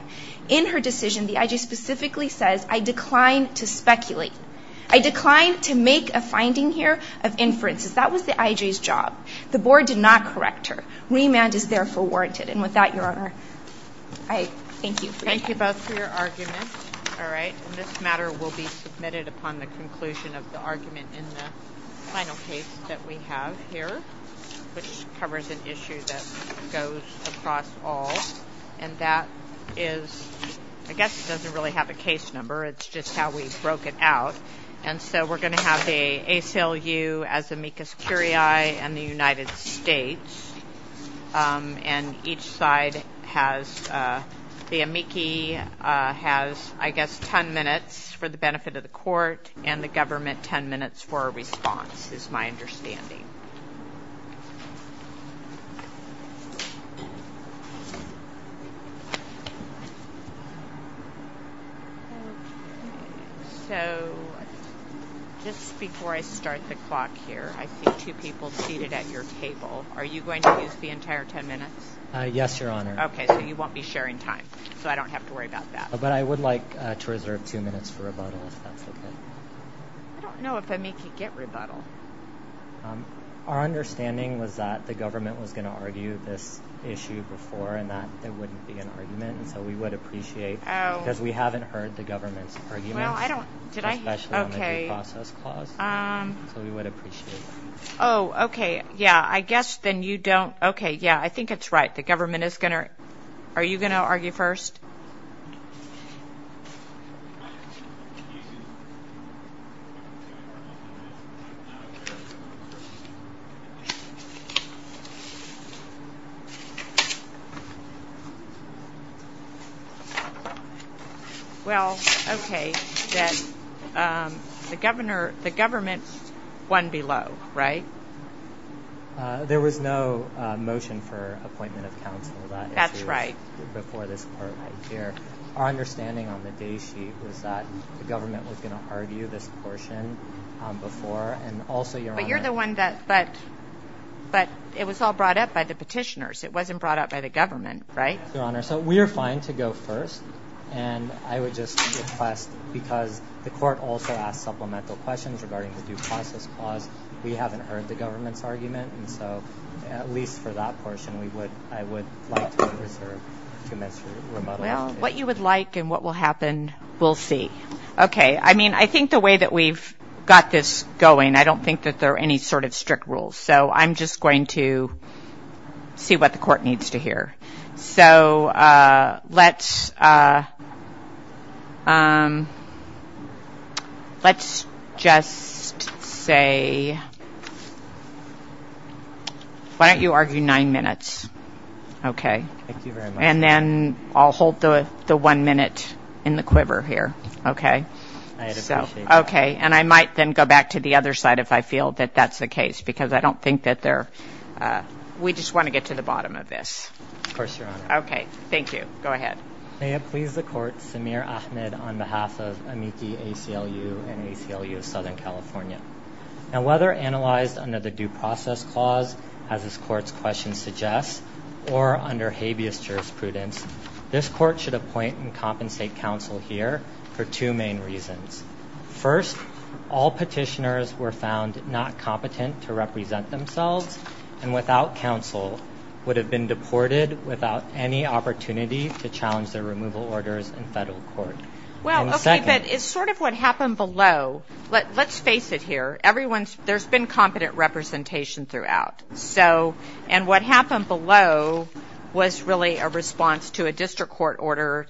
In her decision, the IJ specifically says, I decline to speculate. I decline to make a finding here of inferences. That was the IJ's job. The board did not correct her. Remand is therefore warranted. And with that, Your Honor, I thank you. Thank you both for your arguments. All right. This matter will be submitted upon the conclusion of the argument in the final case that we have here, which covers an issue that goes across all. And that is, I guess it doesn't really have a case number. It's just how we broke it out. And so we're going to have the ACLU, as amicus curiae, and the United States. And each side has the amici has, I guess, 10 minutes for the benefit of the court and the government 10 minutes for a response, is my understanding. So just before I start the clock here, I see two people seated at your table. Are you going to use the entire 10 minutes? Yes, Your Honor. Okay. So you won't be sharing time. So I don't have to worry about that. But I would like to reserve two minutes for rebuttal, if that's okay. No, if amici get rebuttal. Our understanding was that the government was going to argue this issue before and that there wouldn't be an argument. And so we would appreciate, because we haven't heard the government's argument, especially on the due process clause. So we would appreciate that. Oh, okay. Yeah, I guess then you don't – okay, yeah, I think it's right. The government is going to – are you going to argue first? Okay. Well, okay, then the government won below, right? There was no motion for appointment of counsel for that issue. That's right. Before this court right here. Our understanding on the day sheet was that the government was going to argue this portion before. But you're the one that – but it was all brought up by the petitioners. It wasn't brought up by the government, right? Yes, Your Honor. So we are fine to go first. And I would just request, because the court also asked supplemental questions regarding the due process clause. We haven't heard the government's argument. At least for that portion, I would like to hear the government's rebuttal. Well, what you would like and what will happen, we'll see. Okay. I mean, I think the way that we've got this going, I don't think that there are any sort of strict rules. So I'm just going to see what the court needs to hear. So let's just say – why don't you argue nine minutes. Okay. Thank you very much. And then I'll hold the one minute in the quiver here. Okay. I appreciate that. Okay. And I might then go back to the other side if I feel that that's the case, because I don't think that there – we just want to get to the bottom of this. Of course, Your Honor. Okay. Thank you. Go ahead. May it please the court, Samir Ahmed on behalf of NEC, ACLU, and ACLU of Southern California. Now, whether analyzed under the due process clause, as this court's question suggests, or under habeas jurisprudence, this court should appoint and compensate counsel here for two main reasons. First, all petitioners were found not competent to represent themselves and without counsel would have been deported without any opportunity to challenge their removal orders in federal court. Well, okay, but it's sort of what happened below. Let's face it here. Everyone's – there's been competent representation throughout. So – and what happened below was really a response to a district court order,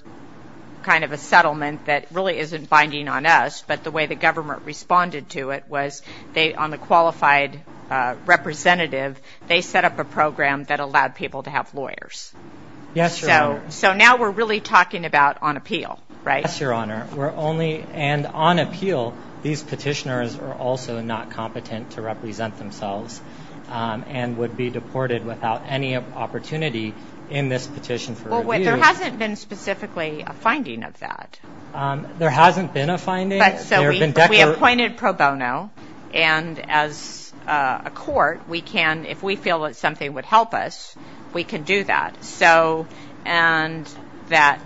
kind of a settlement that really isn't binding on us, but the way the government responded to it was they – on the qualified representative, they set up a program that allowed people to have lawyers. Yes, Your Honor. So now we're really talking about on appeal, right? Yes, Your Honor. We're only – and on appeal, these petitioners are also not competent to represent themselves and would be deported without any opportunity in this petition for review. There hasn't been specifically a finding of that. There hasn't been a finding. So we appointed pro bono, and as a court, we can – if we feel that something would help us, we can do that. So – and that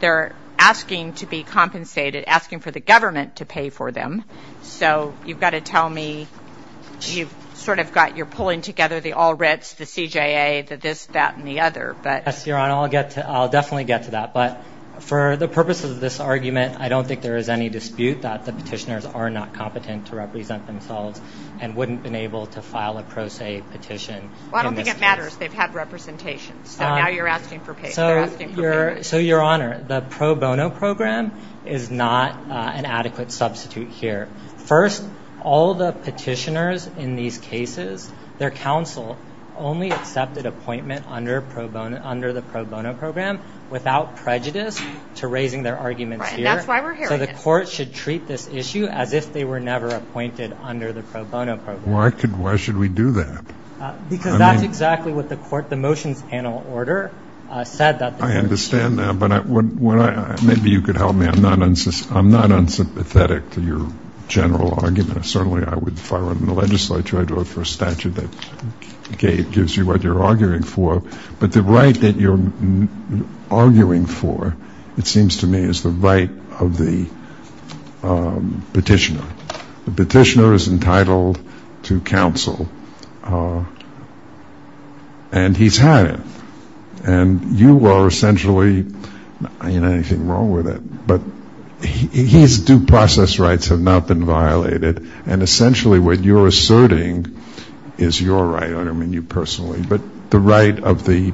they're asking to be compensated, asking for the government to pay for them. So you've got to tell me – you've sort of got – you're pulling together the all writs, the CJA, the this, that, and the other. Yes, Your Honor. I'll get to – I'll definitely get to that. But for the purposes of this argument, I don't think there is any dispute that the petitioners are not competent to represent themselves and wouldn't have been able to file a pro se petition. Well, I don't think it matters. They've had representation. So now you're asking for pay. They're asking for pay. So, Your Honor, the pro bono program is not an adequate substitute here. First, all the petitioners in these cases, their counsel only accepted appointment under the pro bono program without prejudice to raising their arguments here. That's why we're here. So the court should treat this issue as if they were never appointed under the pro bono program. Why should we do that? Because that's exactly what the motion panel order said. I understand that, but maybe you could help me. I'm not unsympathetic to your general argument. Certainly I would fire them in the legislature. I'd vote for a statute that gives you what you're arguing for. But the right that you're arguing for, it seems to me, is the right of the petitioner. The petitioner is entitled to counsel, and he's had it. And you are essentially, I don't have anything wrong with it, but his due process rights have not been violated. And essentially what you're asserting is your right. I don't mean you personally, but the right of the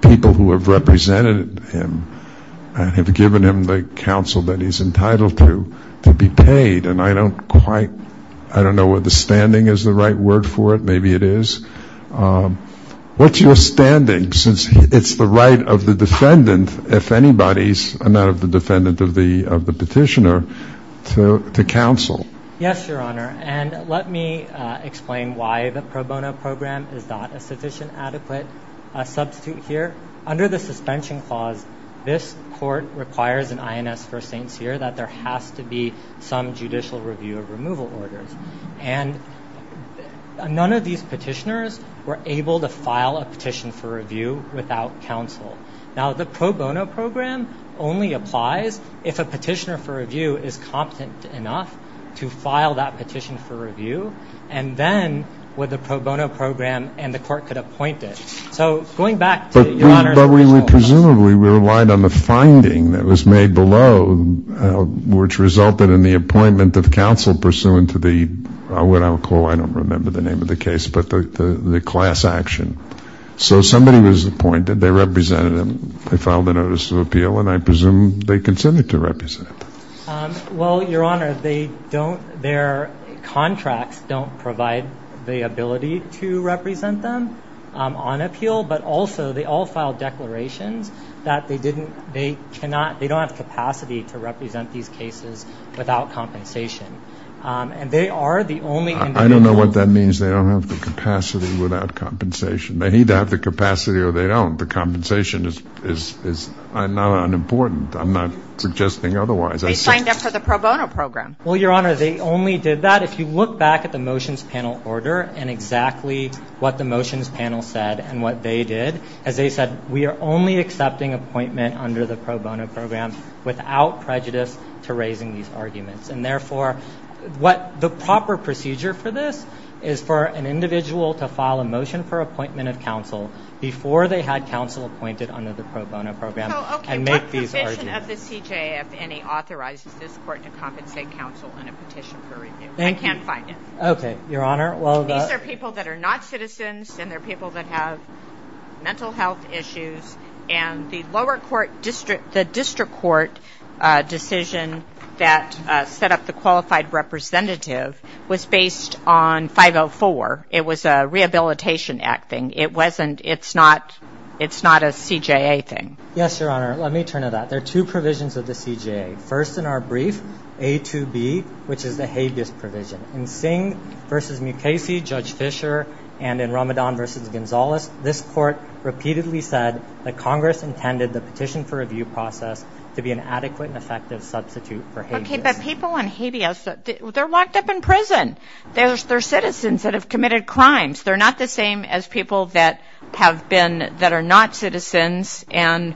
people who have represented him and have given him the counsel that he's entitled to, to be paid. And I don't quite, I don't know whether standing is the right word for it. Maybe it is. What's your standing, since it's the right of the defendant, if anybody's not the defendant of the petitioner, to counsel? Yes, Your Honor. And let me explain why the pro bono program is not a sufficient, adequate substitute here. Under the suspension clause, this court requires an INS first name here that there has to be some judicial review of removal order. And none of these petitioners were able to file a petition for review without counsel. Now, the pro bono program only applies if a petitioner for review is competent enough to file that petition for review, and then with a pro bono program, and the court could appoint it. So, going back to Your Honor. But we presumably relied on the finding that was made below, which resulted in the appointment of counsel pursuant to the, what I'll call, I don't remember the name of the case, but the class action. So, somebody was appointed, they represented him, they filed a notice of appeal, and I presume they continued to represent him. Well, Your Honor, they don't, their contracts don't provide the ability to represent them on appeal, but also they all filed declarations that they didn't, they cannot, they don't have the capacity to represent these cases without compensation. And they are the only... I don't know what that means, they don't have the capacity without compensation. They either have the capacity or they don't. The compensation is not unimportant. I'm not suggesting otherwise. They signed up for the pro bono program. Well, Your Honor, they only did that. Your Honor, if you look back at the motions panel order and exactly what the motions panel said and what they did, as they said, we are only accepting appointment under the pro bono program without prejudice to raising these arguments. And therefore, what the proper procedure for this is for an individual to file a motion for appointment of counsel before they had counsel appointed under the pro bono program and make these arguments. The petition of the CJA, if any, authorizes this court to compensate counsel on a petition for raising... Thank you. I can't find it. Okay, Your Honor, well... These are people that are not citizens and they're people that have mental health issues. And the lower court district, the district court decision that set up the qualified representative was based on 504. It was a Rehabilitation Act thing. It wasn't, it's not, it's not a CJA thing. Yes, Your Honor, let me turn to that. There are two provisions of the CJA. First in our brief, A2B, which is a habeas provision. In Singh v. Mukasey, Judge Fisher, and in Ramadan v. Gonzalez, this court repeatedly said that Congress intended the petition for review process to be an adequate and effective substitute for habeas. Okay, but people on habeas, they're locked up in prison. They're citizens that have committed crimes. They're not the same as people that have been, that are not citizens. And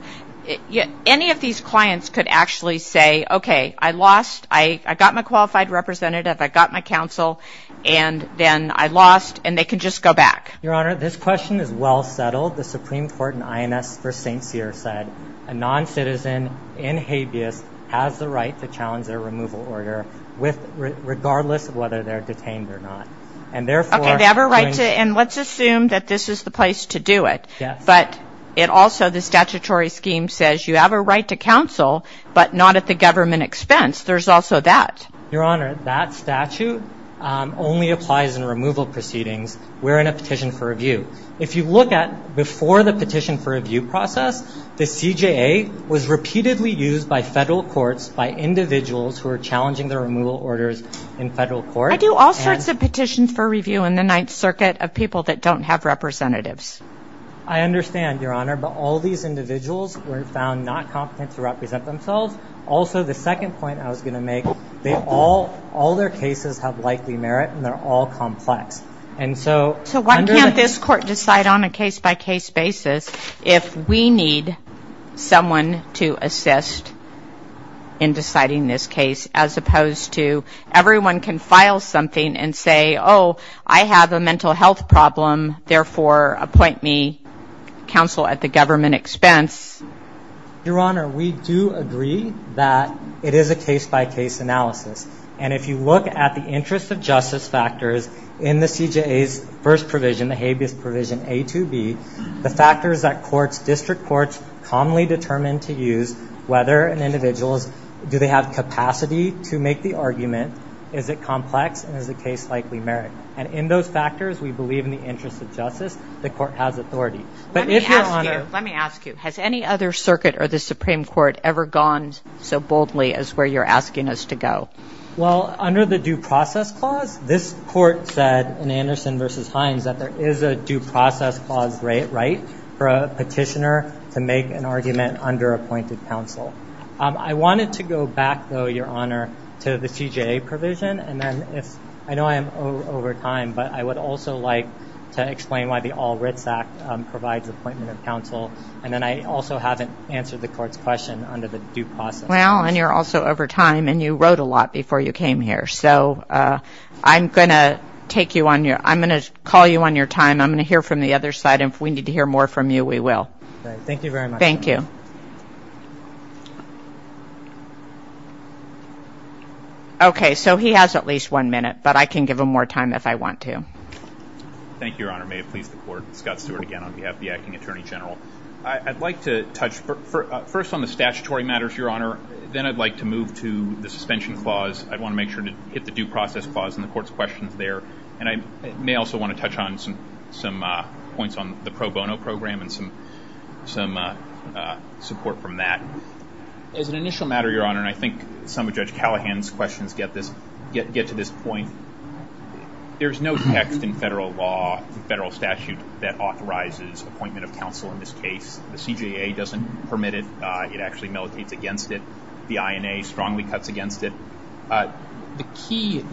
any of these clients could actually say, okay, I lost. I got my qualified representative. I got my counsel. And then I lost. And they could just go back. Your Honor, this question is well settled. The Supreme Court in INS v. St. Pierre said a noncitizen in habeas has the right to challenge their removal order regardless of whether they're detained or not. Okay, they have a right. And let's assume that this is the place to do it. But it also, the statutory scheme says you have a right to counsel, but not at the government expense. There's also that. Your Honor, that statute only applies in removal proceedings. We're in a petition for review. If you look at before the petition for review process, the CJA was repeatedly used by federal courts, by individuals who were challenging their removal orders in federal courts. I do all sorts of petitions for review in the Ninth Circuit of people that don't have representatives. I understand, Your Honor, but all these individuals were found not competent to represent themselves. Also, the second point I was going to make, all their cases have likely merit, and they're all complex. So why can't this court decide on a case-by-case basis if we need someone to assist in deciding this case, as opposed to everyone can file something and say, oh, I have a mental health problem. Therefore, appoint me counsel at the government expense. Your Honor, we do agree that it is a case-by-case analysis. And if you look at the interest of justice factors in the CJA's first provision, the habeas provision A to B, the factors that courts, district courts, commonly determine to use, whether an individual, do they have capacity to make the argument, is it complex, and is the case likely merit. And in those factors, we believe in the interest of justice. The court has authority. Let me ask you, has any other circuit or the Supreme Court ever gone so boldly as where you're asking us to go? Well, under the due process clause, this court said in Anderson v. Hines that there is a due process clause right for a petitioner to make an argument under appointed counsel. I wanted to go back, though, Your Honor, to the CJA provision. I know I am over time, but I would also like to explain why the All Writs Act provides appointment of counsel. And then I also haven't answered the court's question under the due process. Well, and you're also over time, and you wrote a lot before you came here. So I'm going to take you on your, I'm going to call you on your time. I'm going to hear from the other side. And if we need to hear more from you, we will. Thank you very much. Thank you. Okay, so he has at least one minute, but I can give him more time if I want to. Thank you, Your Honor. May it please the court. Scott Stewart again on behalf of the Acting Attorney General. I'd like to touch first on the statutory matters, Your Honor. Then I'd like to move to the suspension clause. I'd want to make sure to hit the due process clause in the court's questions there. And I may also want to touch on some points on the pro bono program and some other things. As an initial matter, Your Honor, and I think some of Judge Callahan's questions get to this point, there's no text in federal law, federal statute, that authorizes appointment of counsel in this case. The CJA doesn't permit it. It actually militates against it. The INA strongly cuts against it. The key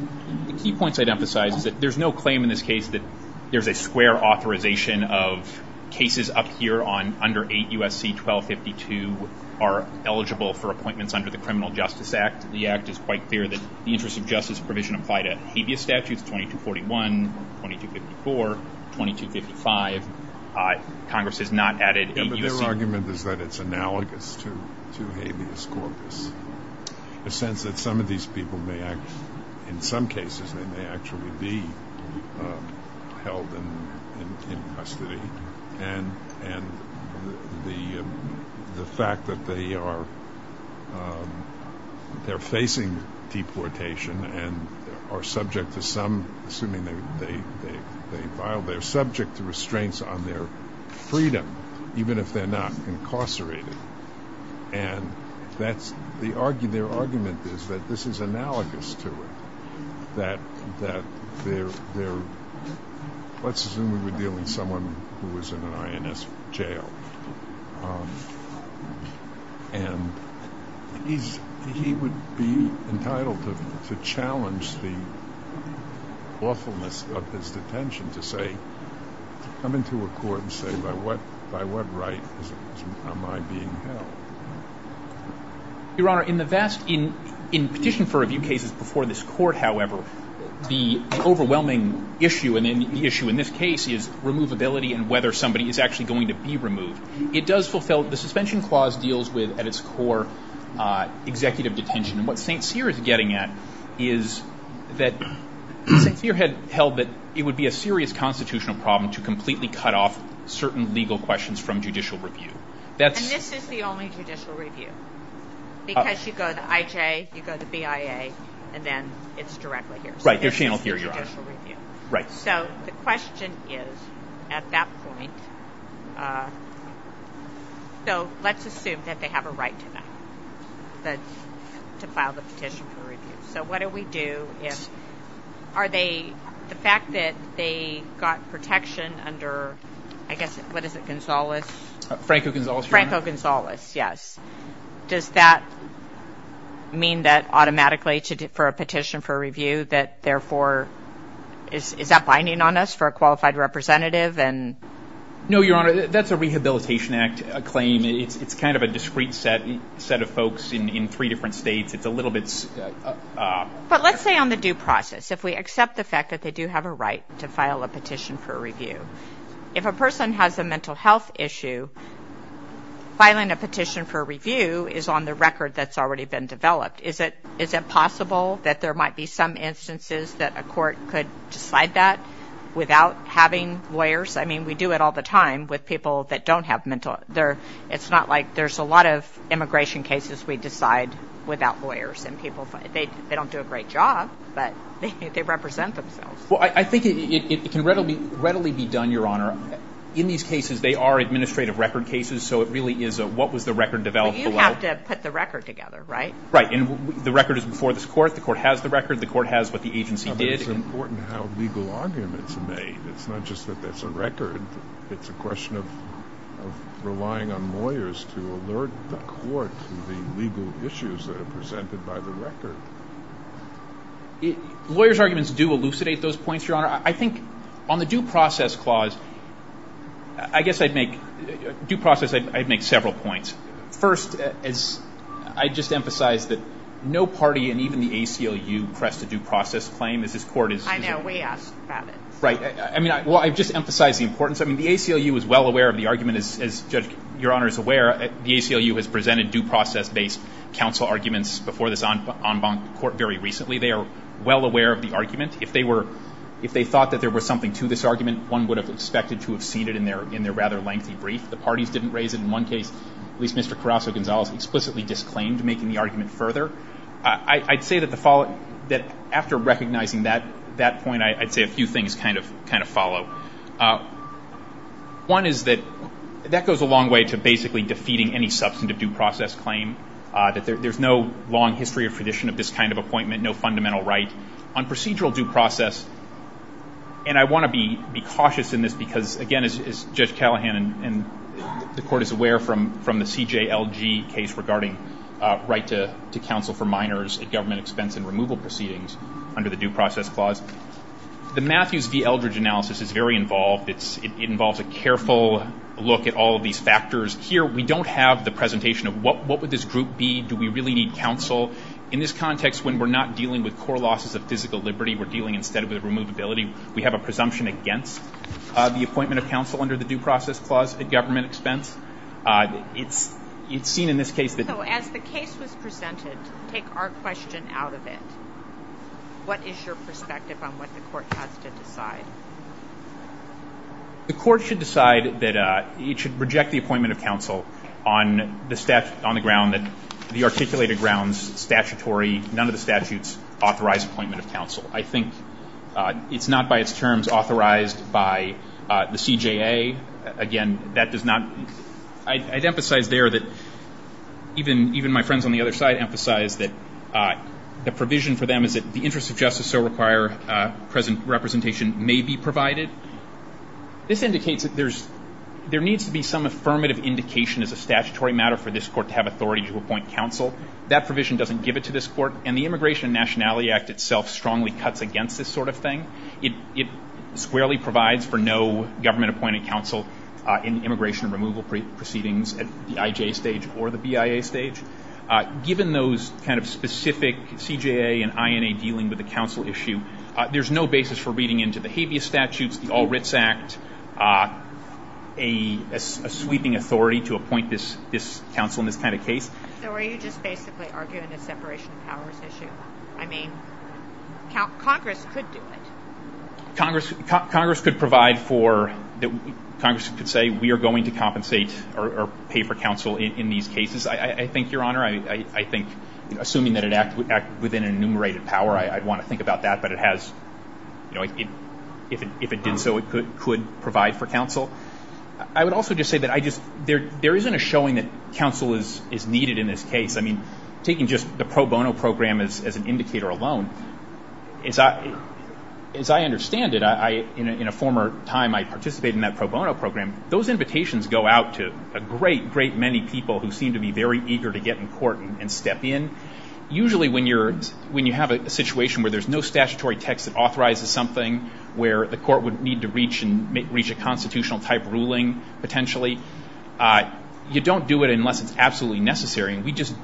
point I'd emphasize is that there's no claim in this case that there's a square authorization of cases up here on under 8 U.S.C. 1252 are eligible for appointments under the Criminal Justice Act. The Act is quite clear that these are suggested as a provision applied to habeas statutes 2241, 2254, 2255. Congress has not added 8 U.S.C. But their argument is that it's analogous to habeas corpus. In the sense that some of these people may, in some cases, they may actually be held in custody. And the fact that they are facing deportation and are subject to some, assuming they filed, they're subject to restraints on their freedom, even if they're not incarcerated. And their argument is that this is analogous to it. That they're, let's assume we're dealing with someone who was in an INS jail. And he would be entitled to challenge the lawfulness of his detention to say, come into a court and say, by what right am I being held? Your Honor, in the vast, in petition for review cases before this court, however, the overwhelming issue in this case is removability and whether somebody is actually going to be removed. It does fulfill, the suspension clause deals with, at its core, executive detention. And what St. Cyr is getting at is that St. Cyr had held that it would be a serious constitutional problem to completely cut off certain legal questions from judicial review. And this is the only judicial review. Because you go to IJ, you go to BIA, and then it's directly here. Right, they're channeled here, Your Honor. So the question is, at that point, so let's assume that they have a right to that. To file the petition for review. So what do we do if, are they, the fact that they got protection under, I guess, what is it, Gonzales? Franco-Gonzales, Your Honor. Franco-Gonzales, yes. Does that mean that automatically, for a petition for review, that therefore, is that binding on us for a qualified representative? No, Your Honor, that's a Rehabilitation Act claim. It's kind of a discrete set of folks in three different states. It's a little bit... But let's say on the due process, if we accept the fact that they do have a right to file a petition for review. If a person has a mental health issue, filing a petition for review is on the record that's already been developed. Is it possible that there might be some instances that a court could decide that without having lawyers? I mean, we do it all the time with people that don't have mental health. It's not like there's a lot of immigration cases we decide without lawyers. They don't do a great job, but they represent themselves. Well, I think it can readily be done, Your Honor. In these cases, they are administrative record cases, so it really is a what was the record developed? You have to put the record together, right? Right, and the record is before this court. The court has the record. The court has what the agency did. It's important how legal arguments are made. It's not just that it's a record. It's a question of relying on lawyers to alert the court to the legal issues that are presented by the record. Lawyers' arguments do elucidate those points, Your Honor. I think on the due process clause, I guess I'd make several points. First, I'd just emphasize that no party and even the ACLU pressed a due process claim. I know. We have it. Right. Well, I've just emphasized the importance. I mean, the ACLU is well aware of the argument, as Judge, Your Honor, is aware. The ACLU has presented due process-based counsel arguments before this en banc court very recently. They are well aware of the argument. If they thought that there was something to this argument, one would have expected to have seen it in their rather lengthy brief. The parties didn't raise it. In one case, at least Mr. Carrasso-Gonzalez explicitly disclaimed making the argument further. I'd say that after recognizing that point, I'd say a few things kind of follow. One is that that goes a long way to basically defeating any substantive due process claim, that there's no long history or tradition of this kind of appointment, no fundamental right. On procedural due process, and I want to be cautious in this because, again, as Judge Callahan and the court is aware from the CJLG case regarding right to counsel for minors at government expense and removal proceedings under the due process clause, the Matthews v. Eldridge analysis is very involved. It involves a careful look at all of these factors. Here, we don't have the presentation of what would this group be. Do we really need counsel? In this context, when we're not dealing with core losses of physical liberty, we're dealing instead with removability. We have a presumption against the appointment of counsel under the due process clause at government expense. It's seen in this case that- So as the case was presented, take our question out of it. What is your perspective on what the court has to decide? The court should decide that it should reject the appointment of counsel on the ground that the articulated grounds statutory, none of the statutes authorize appointment of counsel. I think it's not by its terms authorized by the CJA. Again, that does not- I'd emphasize there that even my friends on the other side emphasize that the provision for them is that the interest of justice so require representation may be provided. This indicates that there needs to be some affirmative indication as a statutory matter for this court to have authority to appoint counsel. That provision doesn't give it to this court, and the Immigration and Nationality Act itself strongly cuts against this sort of thing. It squarely provides for no government-appointed counsel in immigration removal proceedings at the IJ stage or the BIA stage. Given those kind of specific CJA and INA dealing with the counsel issue, there's no basis for reading into the habeas statutes, the All Writs Act, a sweeping authority to appoint this counsel in this kind of case. So are you just basically arguing a separation of powers issue? I mean, Congress could do it. Congress could provide for- Congress could say we are going to compensate or pay for counsel in these cases. I think, Your Honor, I think assuming that it acts within an enumerated power, I'd want to think about that. But it has- if it did so, it could provide for counsel. I would also just say that I just- there isn't a showing that counsel is needed in this case. I mean, taking just the pro bono program as an indicator alone, as I understand it, in a former time I participated in that pro bono program, those invitations go out to a great, great many people who seem to be very eager to get in court and step in. Usually when you're- when you have a situation where there's no statutory text that authorizes something, where the court would need to reach a constitutional type ruling potentially, you don't do it unless it's absolutely necessary. We just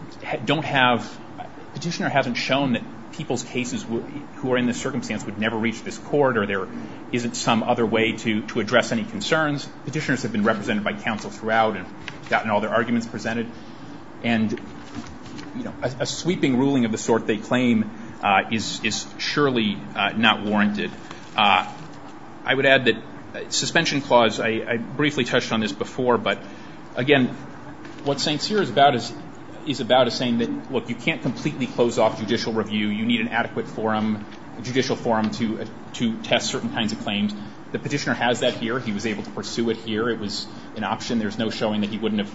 don't have- the petitioner hasn't shown that people's cases who are in this circumstance would never reach this court or there isn't some other way to address any concerns. Petitioners have been represented by counsel throughout and gotten all their arguments presented. And, you know, a sweeping ruling of the sort they claim is surely not warranted. I would add that suspension clause, I briefly touched on this before, but, again, what Sincere is about is saying that, look, you can't completely close off judicial review. You need an adequate forum, a judicial forum to test certain kinds of claims. The petitioner has that here. He was able to pursue it here. It was an option. There's no showing that he wouldn't have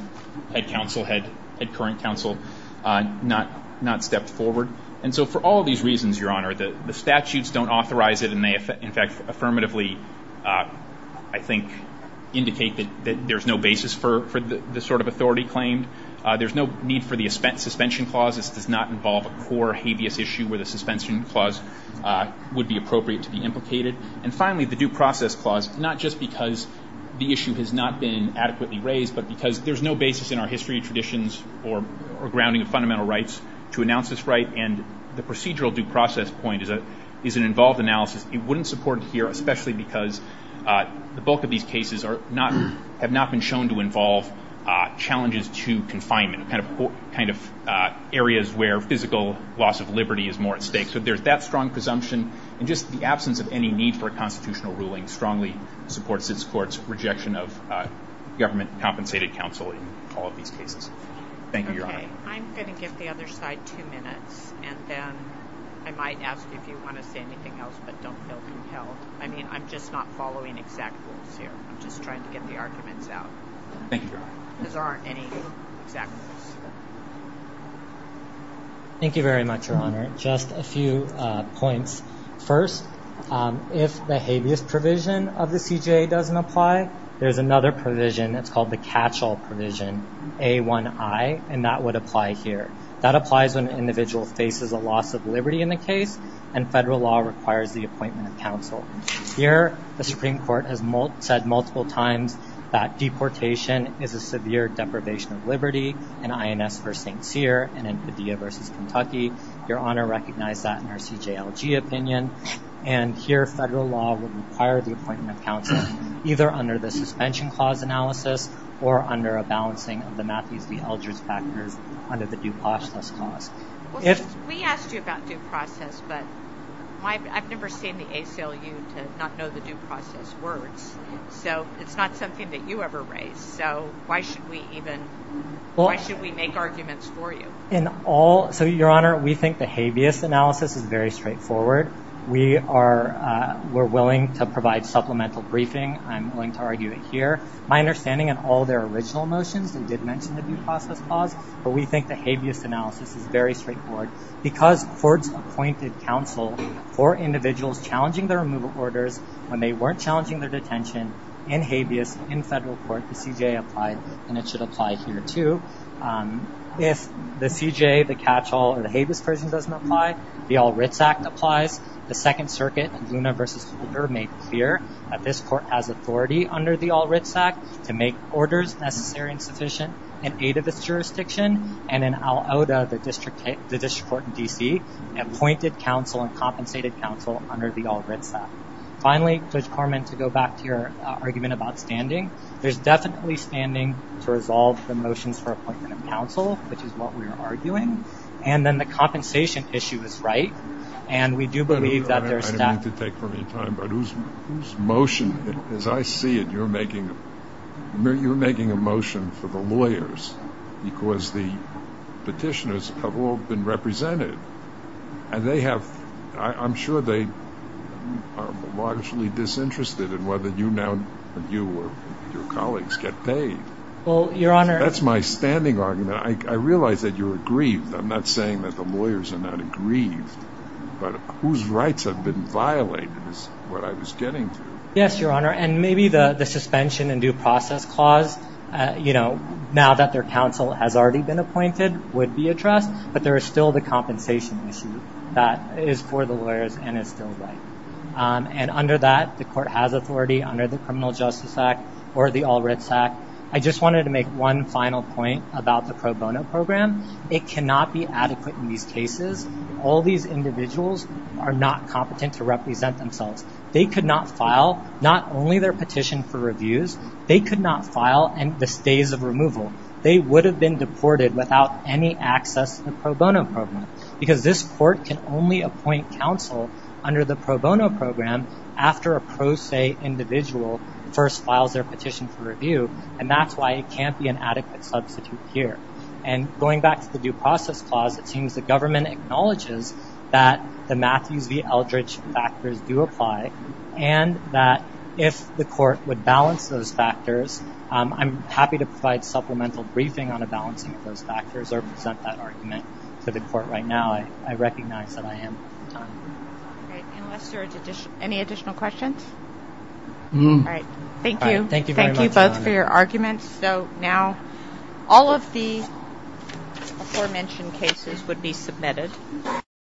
had counsel, had current counsel not stepped forward. And so for all these reasons, Your Honor, the statutes don't authorize it, and they, in fact, affirmatively, I think, indicate that there's no basis for this sort of authority claim. There's no need for the suspension clause. This does not involve a core habeas issue where the suspension clause would be appropriate to be implicated. And, finally, the due process clause, not just because the issue has not been adequately raised, but because there's no basis in our history, traditions, or grounding of fundamental rights to announce this right, and the procedural due process point is an involved analysis. It wouldn't support it here, especially because the bulk of these cases have not been shown to involve challenges to confinement, kind of areas where physical loss of liberty is more at stake. So there's that strong presumption, and just the absence of any need for constitutional ruling strongly supports this Court's rejection of government-compensated counsel in all of these cases. Thank you, Your Honor. Okay. I'm going to give the other side two minutes, and then I might ask if you want to say anything else, but don't tell me to tell. I mean, I'm just not following exact rules here. I'm just trying to get the arguments out. Thank you, Your Honor. There aren't any exact rules. Thank you very much, Your Honor. Just a few points. First, if the habeas provision of the PGA doesn't apply, there's another provision. It's called the catch-all provision, A1I, and that would apply here. That applies when an individual faces a loss of liberty in the case, and federal law requires the appointment of counsel. Here, the Supreme Court has said multiple times that deportation is a severe deprivation of liberty, in IMS v. St. Cyr and in Padilla v. Kentucky. Your Honor recognized that in her CJLG opinion, and here federal law would require the appointment of counsel either under the suspension clause analysis or under a balancing of the Matthew C. Eldridge factors under the due process clause. We asked you about due process, but I've never seen the ACLU not know the due process words, so it's not something that you ever write, so why should we even... Why should we make arguments for you? In all... So, Your Honor, we think the habeas analysis is very straightforward. We are... We're willing to provide supplemental briefing. I'm willing to argue it here. My understanding of all their original motions, they did mention the due process clause, but we think the habeas analysis is very straightforward because courts appointed counsel for individuals challenging their removal orders when they weren't challenging their detention in habeas in federal court, and it should apply here, too. If the CJA, the catch-all, or the habeas version doesn't apply, the All Writs Act applies. The Second Circuit, Zuma v. Cougar, makes clear that this court has authority under the All Writs Act to make orders necessary and sufficient in aid of its jurisdiction and in al oda, the district court in D.C., appointed counsel and compensated counsel under the All Writs Act. Finally, Judge Corman, to go back to your argument about standing, there's definitely standing to resolve the motions for appointment of counsel, which is what we're arguing, and then the compensation issue is right, and we do believe that there's not... I don't mean to take too much time, but whose motion, as I see it, you're making a motion for the lawyers because the petitioners have all been represented, and they have... That's my standing argument. I realize that you agree. I'm not saying that the lawyers are not agreed, but whose rights have been violated is what I was getting to. Yes, Your Honor, and maybe the suspension and due process clause, you know, now that their counsel has already been appointed, would be addressed, but there is still the compensation issue that is for the lawyers and is still right. And under that, the court has authority under the Criminal Justice Act or the All Writs Act. I just wanted to make one final point about the pro bono program. It cannot be adequate in these cases. All these individuals are not competent to represent themselves. They could not file not only their petition for reviews, they could not file the stays of removal. They would have been deported without any access to pro bono programs because this court can only appoint counsel under the pro bono program after a pro se individual first filed their petition for review, and that's why it can't be an adequate substitute here. And going back to the due process clause, it seems the government acknowledges that the Matthew V. Eldridge factors do apply and that if the court would balance those factors, I'm happy to provide supplemental briefing on the balancing of those factors or present that argument to the court right now. I recognize that I am. Unless there are any additional questions? All right. Thank you. Thank you both for your arguments. So now all of the aforementioned cases would be submitted.